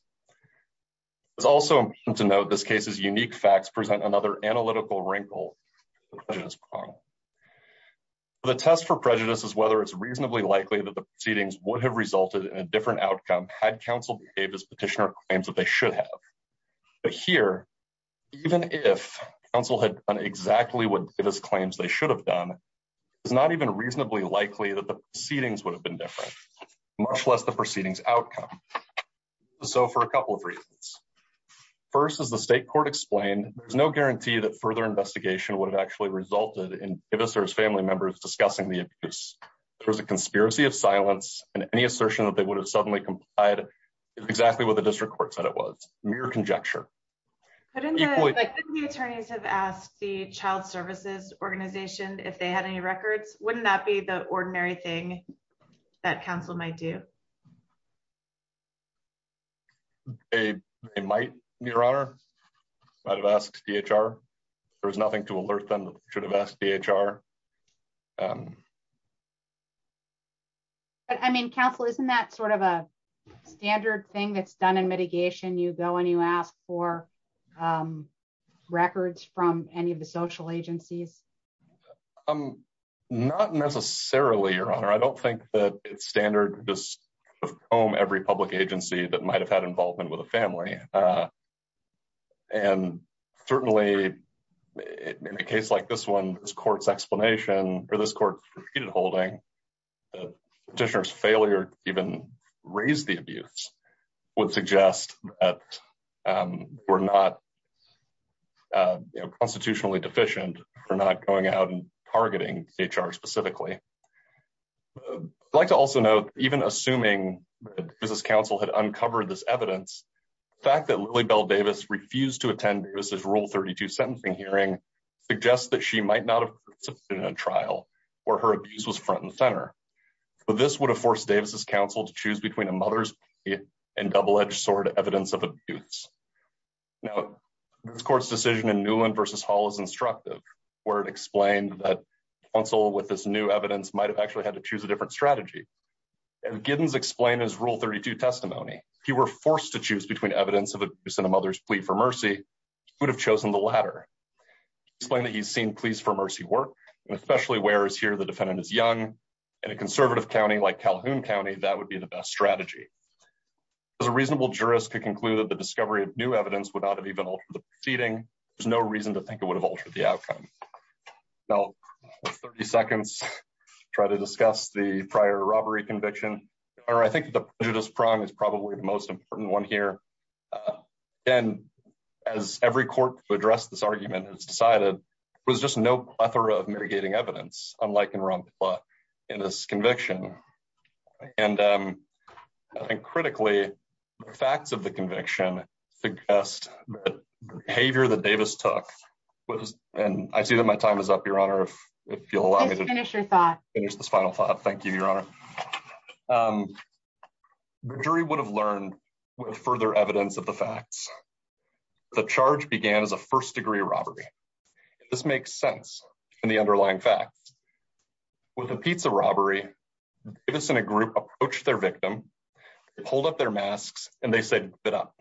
It's also important to note this case's unique facts present another analytical wrinkle in the prejudice problem. The test for prejudice is whether it's reasonably likely that the proceedings would have resulted in a different outcome had counsel behaved as Petitioner claims that they should have. But here, even if counsel had done exactly what Davis claims they should have done, it's not even reasonably likely that the proceedings would have been different, much less the proceedings outcome. So, for a couple of reasons. First, as the state court explained, there's no guarantee that further investigation would have actually resulted in Davis or his family members discussing the abuse. There was a conspiracy of silence, and any assertion that they would have suddenly complied is exactly what the district court said it was, mere conjecture. Couldn't the attorneys have asked the child services organization if they had any records? Wouldn't that be the ordinary thing that counsel might do? They might, Your Honor. I'd have asked DHR. There's nothing to alert them that we should have asked DHR. I mean, Counselor, isn't that sort of a standard thing that's done in mitigation? You go and you ask for records from any of the social agencies? Not necessarily, Your Honor. I don't think that standard does comb every public agency that might have had involvement with a family. And certainly, in a case like this one, this court's explanation, or this court's repeated holding, the petitioner's failure to even raise the abuse would suggest that we're not constitutionally deficient. We're not going out and targeting DHR specifically. I'd like to also note, even assuming that this counsel had uncovered this evidence, the fact that Lily Bell Davis refused to attend Davis's Rule 32 sentencing hearing suggests that she might not have participated in a trial where her abuse was front and center. But this would have forced Davis's counsel to choose between a mother's case and double-edged sword evidence of abuse. Now, this court's decision in Newland v. Hall is instructive, where it explained that counsel with this new evidence might have actually had to choose a different strategy. As Giddens explained in his Rule 32 testimony, if he were forced to choose between evidence of abuse and a mother's plea for mercy, he would have chosen the latter. He explained that he's seen pleas for mercy work, and especially where it's here the defendant is young. In a conservative county like Calhoun County, that would be the best strategy. If a reasonable jurist could conclude that the discovery of new evidence would not have even altered the proceeding, there's no reason to think it would have altered the outcome. Now, I'll take 30 seconds to try to discuss the prior robbery conviction, or I think the prejudice prime is probably the most important one here. Then, as every court to address this argument has decided, there was just no plethora of mitigating evidence, unlike in Rumpfla, in this conviction. And I think critically, the facts of the conviction suggest that the behavior that Davis took was, and I see that my time is up, Your Honor, if you'll allow me to finish this final thought. Thank you, Your Honor. The jury would have learned with further evidence of the facts. The charge began as a first-degree robbery. This makes sense in the underlying facts. With a pizza robbery, Davis and a group approached their victim, pulled up their masks, and they said, give it up.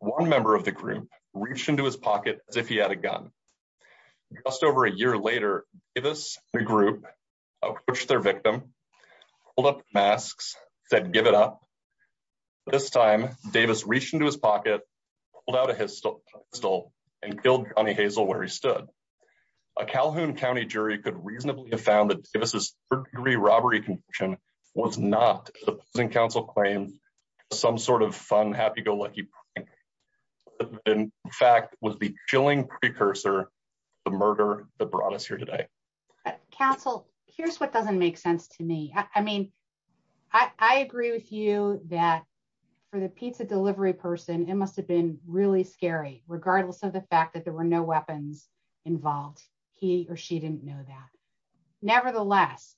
One member of the group reached into his pocket as if he had a gun. Just over a year later, Davis and a group approached their victim, pulled up masks, said, give it up. This time, Davis reached into his pocket, pulled out a pistol, and killed Johnny Hazel where he stood. A Calhoun County jury could reasonably have found that Davis' first-degree robbery conviction was not, supposing counsel claims, some sort of fun, happy-go-lucky crime. In fact, it was the chilling precursor to the murder that brought us here today. Counsel, here's what doesn't make sense to me. I mean, I agree with you that for the pizza delivery person, it must have been really scary, regardless of the fact that there were no weapons involved. He or she didn't know that. Nevertheless,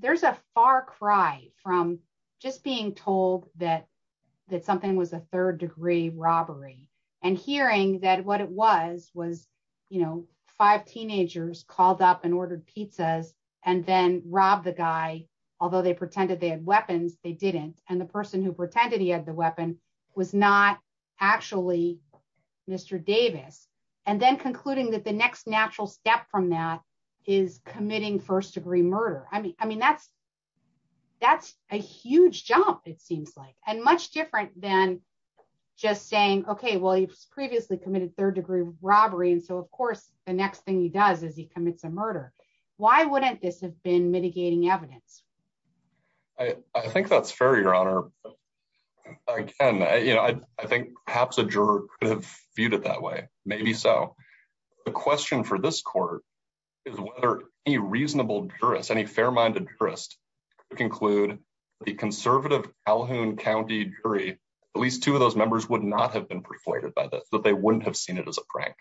there's a far cry from just being told that something was a third-degree robbery and hearing that what it was was, you know, five teenagers called up and ordered pizzas and then robbed the guy. Although they pretended he had the weapon, it was not actually Mr. Davis. And then concluding that the next natural step from that is committing first-degree murder. I mean, that's a huge jump, it seems like, and much different than just saying, okay, well, he's previously committed third-degree robbery, and so of course, the next thing he does is he commits a murder. Why wouldn't this have been mitigating evidence? I think that's fair, Your Honor. I think perhaps a juror could have viewed it that way, maybe so. The question for this court is whether any reasonable jurist, any fair-minded jurist, could conclude the conservative Calhoun County jury, at least two of those members would not have been persuaded by this, that they wouldn't have seen it as a prank,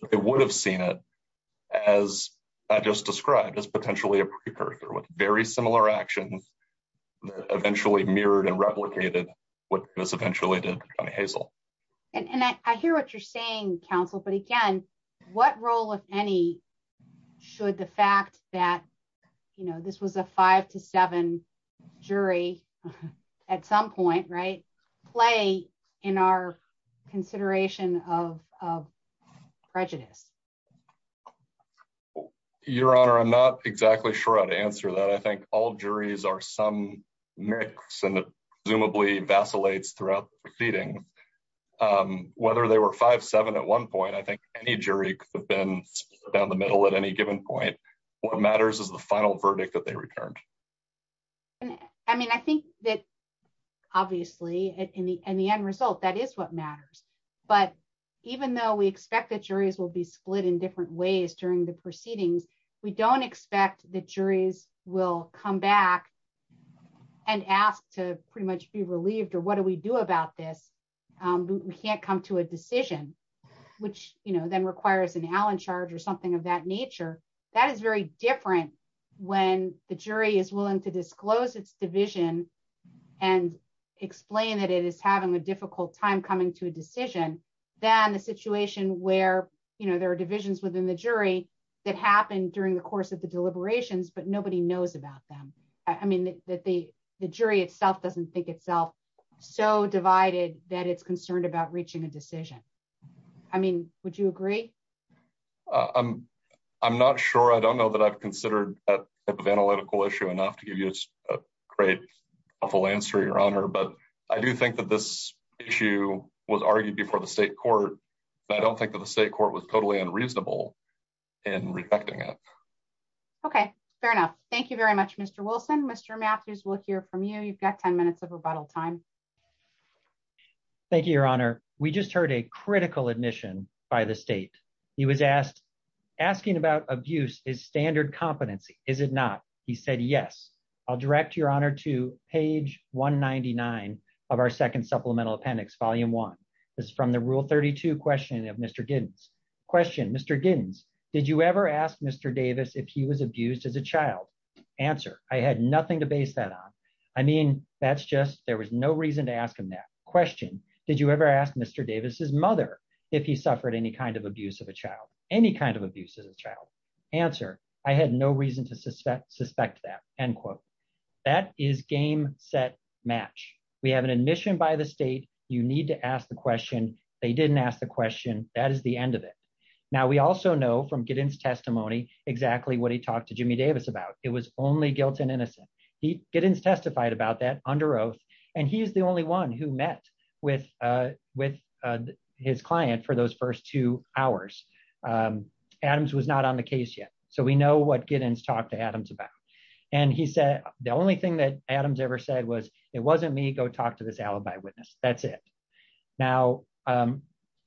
but they would have seen it as I just described, as potentially a precursor with very similar actions that eventually mirrored and replicated what this eventually did to Tommy Hazel. And I hear what you're saying, counsel, but again, what role, if any, should the fact that, you know, this was a five to seven jury at some point, right, play in our consideration of prejudice? Your Honor, I'm not exactly sure how to answer that. I think all juries are some mix, and it presumably vacillates throughout the proceeding. Whether they were five, seven at one point, I think any jury could have been down the middle at any given point. What matters is the final verdict that they returned. I mean, I think that, obviously, in the end result, that is what matters. But even though we expect that juries will be split in different ways during the proceeding, we don't expect that juries will come back and ask to pretty much be relieved, or what do we do about this? We can't come to a decision, which, you know, then requires an Allen charge or something of that nature. That is very different when the jury is willing to disclose its division and explain it as having a difficult time coming to a decision than a situation where, you know, there are divisions within the jury that happened during the course of the deliberations, but nobody knows about them. I mean, the jury itself doesn't think itself so divided that it's concerned about reaching a decision. I mean, would you agree? I'm not sure. I don't know that I've considered that type of analytical issue enough to give you a great, awful answer, Your Honor. But I do think that this issue was argued before the state court, but I don't think that the state court was totally unreasonable in rejecting it. Okay, fair enough. Thank you very much, Mr. Wilson. Mr. Masters, we'll hear from you. You've got 10 minutes of rebuttal time. Thank you, Your Honor. We just heard a critical admission by the state. He was asked, asking about abuse is standard competency. Is it not? He said, yes. I'll direct Your Honor to page 199 of our second supplemental appendix, volume one. It's from the rule 32 question of Mr. Giddens. Question, Mr. Giddens, did you ever ask Mr. Davis if he was abused as a child? Answer, I had nothing to base that on. I mean, that's just, there was no reason to ask him that. Question, did you ever ask Mr. Davis' mother if he suffered any kind of abuse of a child, any kind of abuse as a child? Answer, I had no reason to suspect that, end quote. That is game, set, match. We have an admission by the state. You need to ask the question. They didn't ask the question. That is the end of it. Now, we also know from Giddens' testimony exactly what he talked to Jimmy Davis about. It was only guilt and innocence. Giddens testified about that under oath, and he's the only one who met with his client for those first two hours. Adams was not on the case yet. So we know what Giddens talked to Adams about. And he said, the only thing that Adams ever said was, it wasn't me. Go talk to this alibi witness. That's it. Now,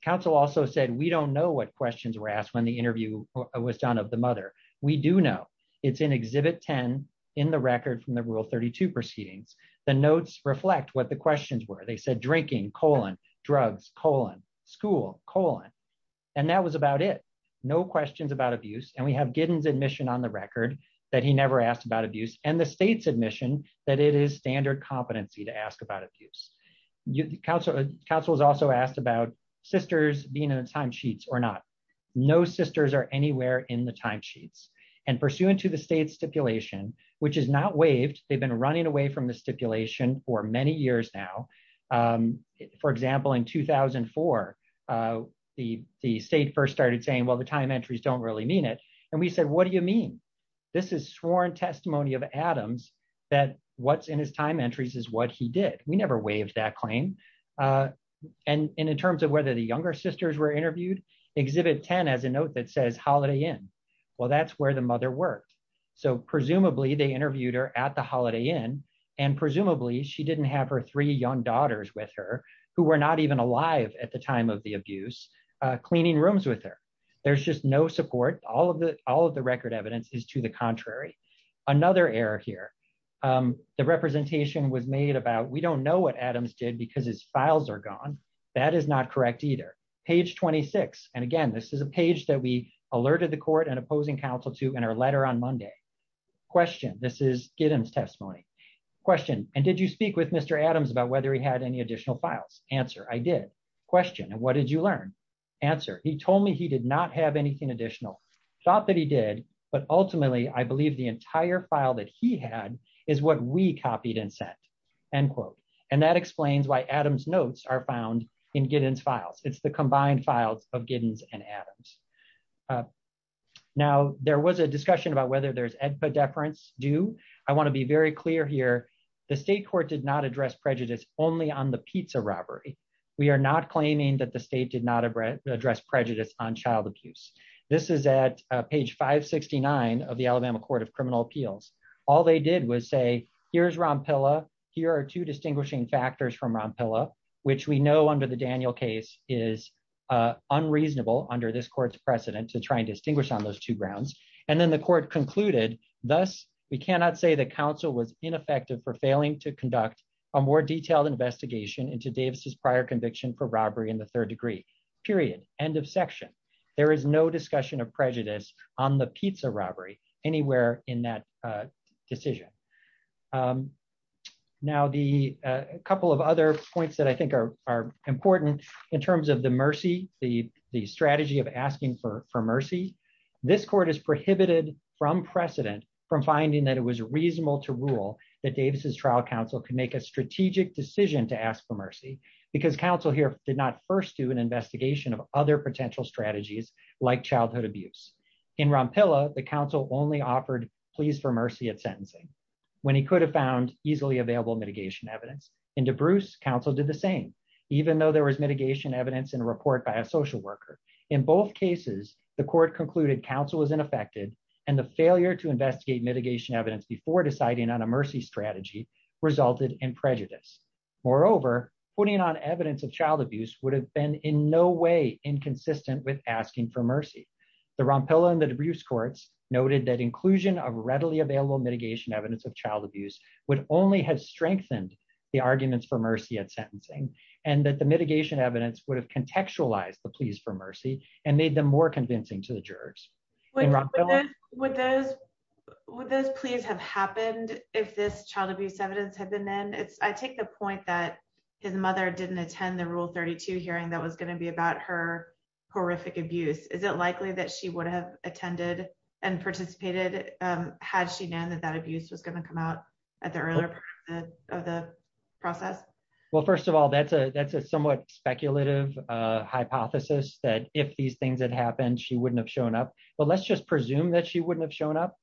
counsel also said, we don't know what questions were asked when the interview was done of the mother. We do know. It's in Exhibit 10 in the record from the Rule 32 proceedings. The notes reflect what the questions were. They said, drinking, colon, drugs, colon, school, colon. And that was about it. No questions about abuse. And we have Giddens' admission on the record that he never asked about abuse, and the state's admission that it is standard competency to ask about abuse. Counsel was also asked about sisters being in the timesheets or not. No sisters are anywhere in the timesheets. And pursuant to the state's stipulation, which is not waived, they've been running away from the stipulation for many years now. For example, in 2004, the state first started saying, well, the time entries don't really mean it. And we said, what do you mean? This is sworn testimony of Adams that what's in his time entries is what he did. We never waived that claim. And in terms of whether the younger sisters were interviewed, Exhibit 10 has a note that says, Holiday Inn. Well, that's where the mother worked. So presumably, they interviewed her at the Holiday Inn. And presumably, she didn't have her three young daughters with her, who were not even alive at the time of the abuse, cleaning rooms with her. There's just no support. All of the record evidence is to the contrary. Another error here. The representation was made about, we don't know what Adams did because his either. Page 26. And again, this is a page that we alerted the court and opposing counsel to in our letter on Monday. Question, this is Giddens' testimony. Question, and did you speak with Mr. Adams about whether he had any additional files? Answer, I did. Question, and what did you learn? Answer, he told me he did not have anything additional. Thought that he did, but ultimately, I believe the entire file that he had is what we copied and sent, end quote. And that explains why it's the combined files of Giddens and Adams. Now, there was a discussion about whether there's EDPA deference due. I want to be very clear here. The state court did not address prejudice only on the pizza robbery. We are not claiming that the state did not address prejudice on child abuse. This is at page 569 of the Alabama Court of Criminal Appeals. All they did was say, here's Rompilla. Here are two distinguishing factors from Rompilla, which we know under the Daniel case is unreasonable under this court's precedent to try and distinguish on those two grounds. And then the court concluded, thus, we cannot say the counsel was ineffective for failing to conduct a more detailed investigation into Davis's prior conviction for robbery in the third degree, period, end of section. There is no discussion of prejudice on the pizza robbery anywhere in that decision. Now, a couple of other points that I think are important in terms of the mercy, the strategy of asking for mercy, this court has prohibited from precedent from finding that it was reasonable to rule that Davis's trial counsel could make a strategic decision to ask for mercy because counsel here did not first do an investigation of other potential strategies like childhood abuse. In Rompilla, the counsel only offered pleas for mercy at sentencing when he could have found easily available mitigation evidence. In DeBruce, counsel did the same, even though there was mitigation evidence in a report by a social worker. In both cases, the court concluded counsel was ineffective and the failure to investigate mitigation evidence before deciding on a mercy strategy resulted in prejudice. Moreover, putting on evidence of child abuse would have been in no way inconsistent with asking for mercy. The Rompilla and the DeBruce courts noted that inclusion of readily available mitigation evidence of child abuse would only have strengthened the arguments for mercy at sentencing and that the mitigation evidence would have contextualized the pleas for mercy and made them more convincing to the jurors. Would those pleas have happened if this child abuse evidence had been in? I take the point that his mother didn't attend the Rule 32 hearing that was going to be about her horrific abuse. Is it likely that she would have attended and participated had she known that that abuse was going to come out at the earlier part of the process? Well, first of all, that's a somewhat speculative hypothesis that if these things had happened, she wouldn't have shown up. But let's just presume that she wouldn't have shown up.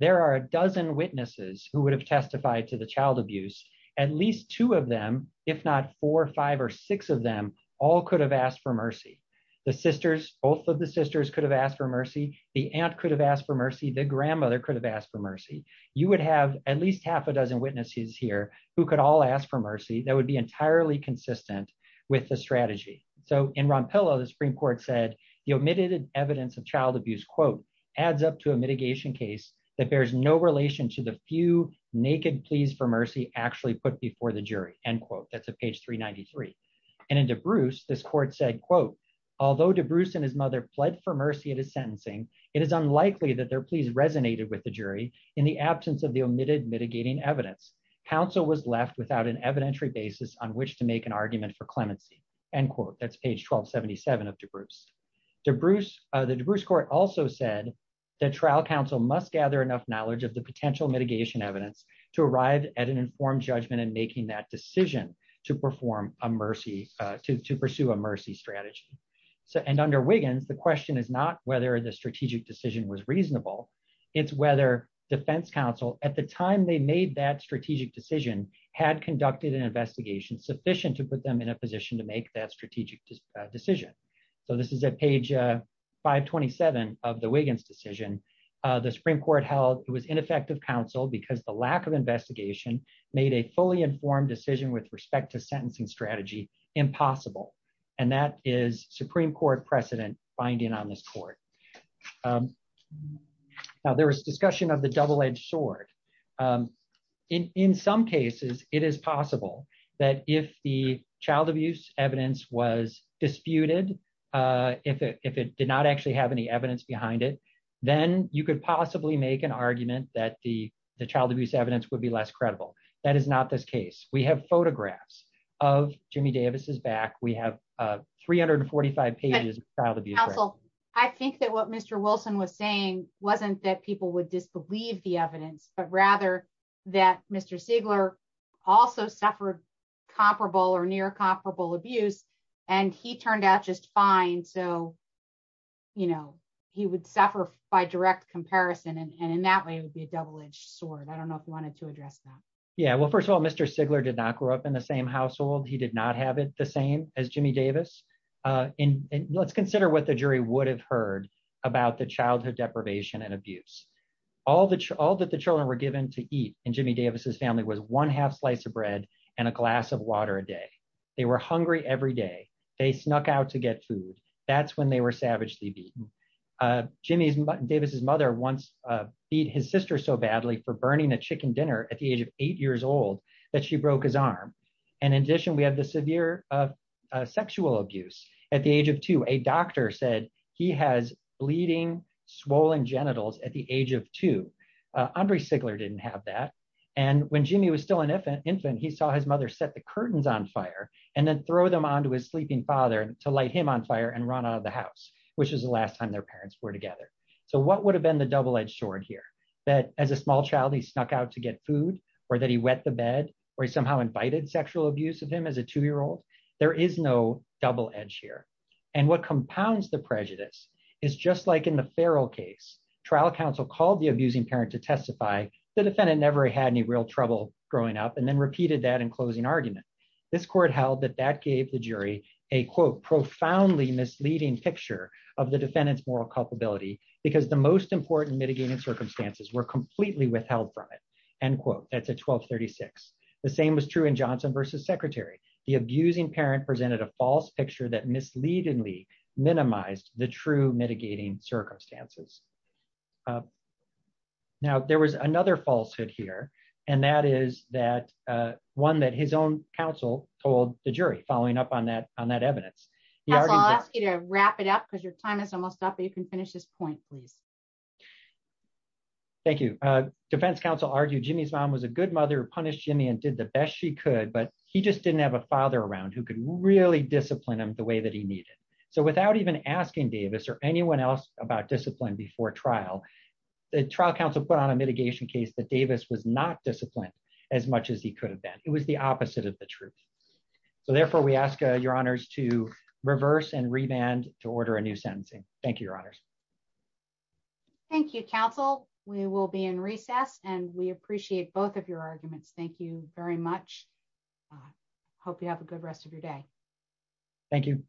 There are a dozen witnesses who would have testified to the child abuse. At least two of them, if not four, five, or six of them all could have asked for mercy. The sisters, both of the sisters could have asked for mercy. The aunt could have asked for mercy. The grandmother could have asked for mercy. You would have at least half a dozen witnesses here who could all ask for mercy that would be entirely consistent with the strategy. So in Ron Pillow, the Supreme Court said the omitted evidence of child abuse, quote, adds up to a mitigation case that bears no relation to the few naked pleas for mercy actually put before the jury, end quote. That's at page 393. And in DeBruce, this court said, quote, although DeBruce and his mother fled for mercy in his sentencing, it is unlikely that their pleas resonated with the jury in the absence of the omitted mitigating evidence. Counsel was left without an evidentiary basis on which to make an argument for clemency, end quote. That's page 1277 of DeBruce. DeBruce, the DeBruce court also said that trial counsel must gather enough knowledge of the potential mitigation evidence to arrive at an informed judgment in making that decision to pursue a mercy strategy. And under Wiggins, the question is not whether the strategic decision was reasonable. It's whether defense counsel at the time they made that strategic decision had conducted an investigation sufficient to put them in a position to make that strategic decision. So this is at page 527 of the Wiggins decision. The Supreme Court held it was ineffective counsel because the lack of investigation made a fully informed decision with respect to sentencing strategy impossible. And that is Supreme Court precedent binding on this court. Now, there was discussion of the double-edged sword. In some cases, it is possible that if the child abuse evidence was disputed, if it did not actually have any evidence behind it, then you could possibly make an argument that the child abuse evidence would be less credible. That is not this case. We have photographs of Jimmy Davis' back. We have 345 pages of child abuse evidence. I think that what Mr. Wilson was saying wasn't that people would disbelieve the evidence, but rather that Mr. Sigler also suffered comparable or near comparable abuse, and he turned out just fine. So he would suffer by direct comparison. And in that way, it would be a double-edged sword. I don't know if you wanted to address that. Yeah. Well, first of all, Mr. Sigler did not grow up in the same household. He did not have it the same as Jimmy Davis. And let's consider what the jury would have heard about the childhood deprivation and abuse. All that the children were given to eat in Jimmy Davis' family was one half slice of bread and a glass of water a day. They were hungry every day. They snuck out to get food. That's when they were savagely beaten. Jimmy Davis' mother once beat his sister so badly for burning a chicken dinner at the age of eight years old that she broke his arm. And in addition, we have the severe sexual abuse. At the age of two, a doctor said he has bleeding, swollen genitals at the age of two. Andre Sigler didn't have that. And when Jimmy was still an infant, he saw his mother set the curtains on fire and then throw them onto his sleeping father to light him on fire and run out of the house, which is the last time their parents were together. So what would have been the double-edged sword here? That as a small child, he snuck out to get food, or that he wet the bed, or he somehow invited sexual abuse of him as a two-year-old? There is no double-edge here. And what compounds the prejudice is just like in the Farrell case, trial counsel called the abusing parent to testify. The defendant never had any real trouble growing up, and then repeated that in closing argument. This court held that that gave the jury a, quote, profoundly misleading picture of the defendant's moral culpability because the most important mitigating circumstances were completely withheld from it, end quote, at the 1236. The same was true in Johnson v. Secretary. The abusing parent presented a false picture that misleadingly minimized the true mitigating circumstances. Now, there was another falsehood here, and that is that one that his own counsel told the jury following up on that evidence. I'll ask you to wrap it up because your time is almost up, but you can finish this point, please. Thank you. Defense counsel argued Jimmy's mom was a good mother who punished Jimmy and did the best she could, but he just didn't have a father around who could really discipline him the way that he needed. So without even asking Davis or anyone else about discipline before trial, the trial counsel put on a mitigation case that Davis was not disciplined as much as he could have been. It was the opposite of the truth. So therefore, we ask your honors to reverse and revand to order a new sentencing. Thank you, your honors. Thank you, counsel. We will be in recess, and we appreciate both of your arguments. Thank you very much. Hope you have a good rest of your day. Thank you.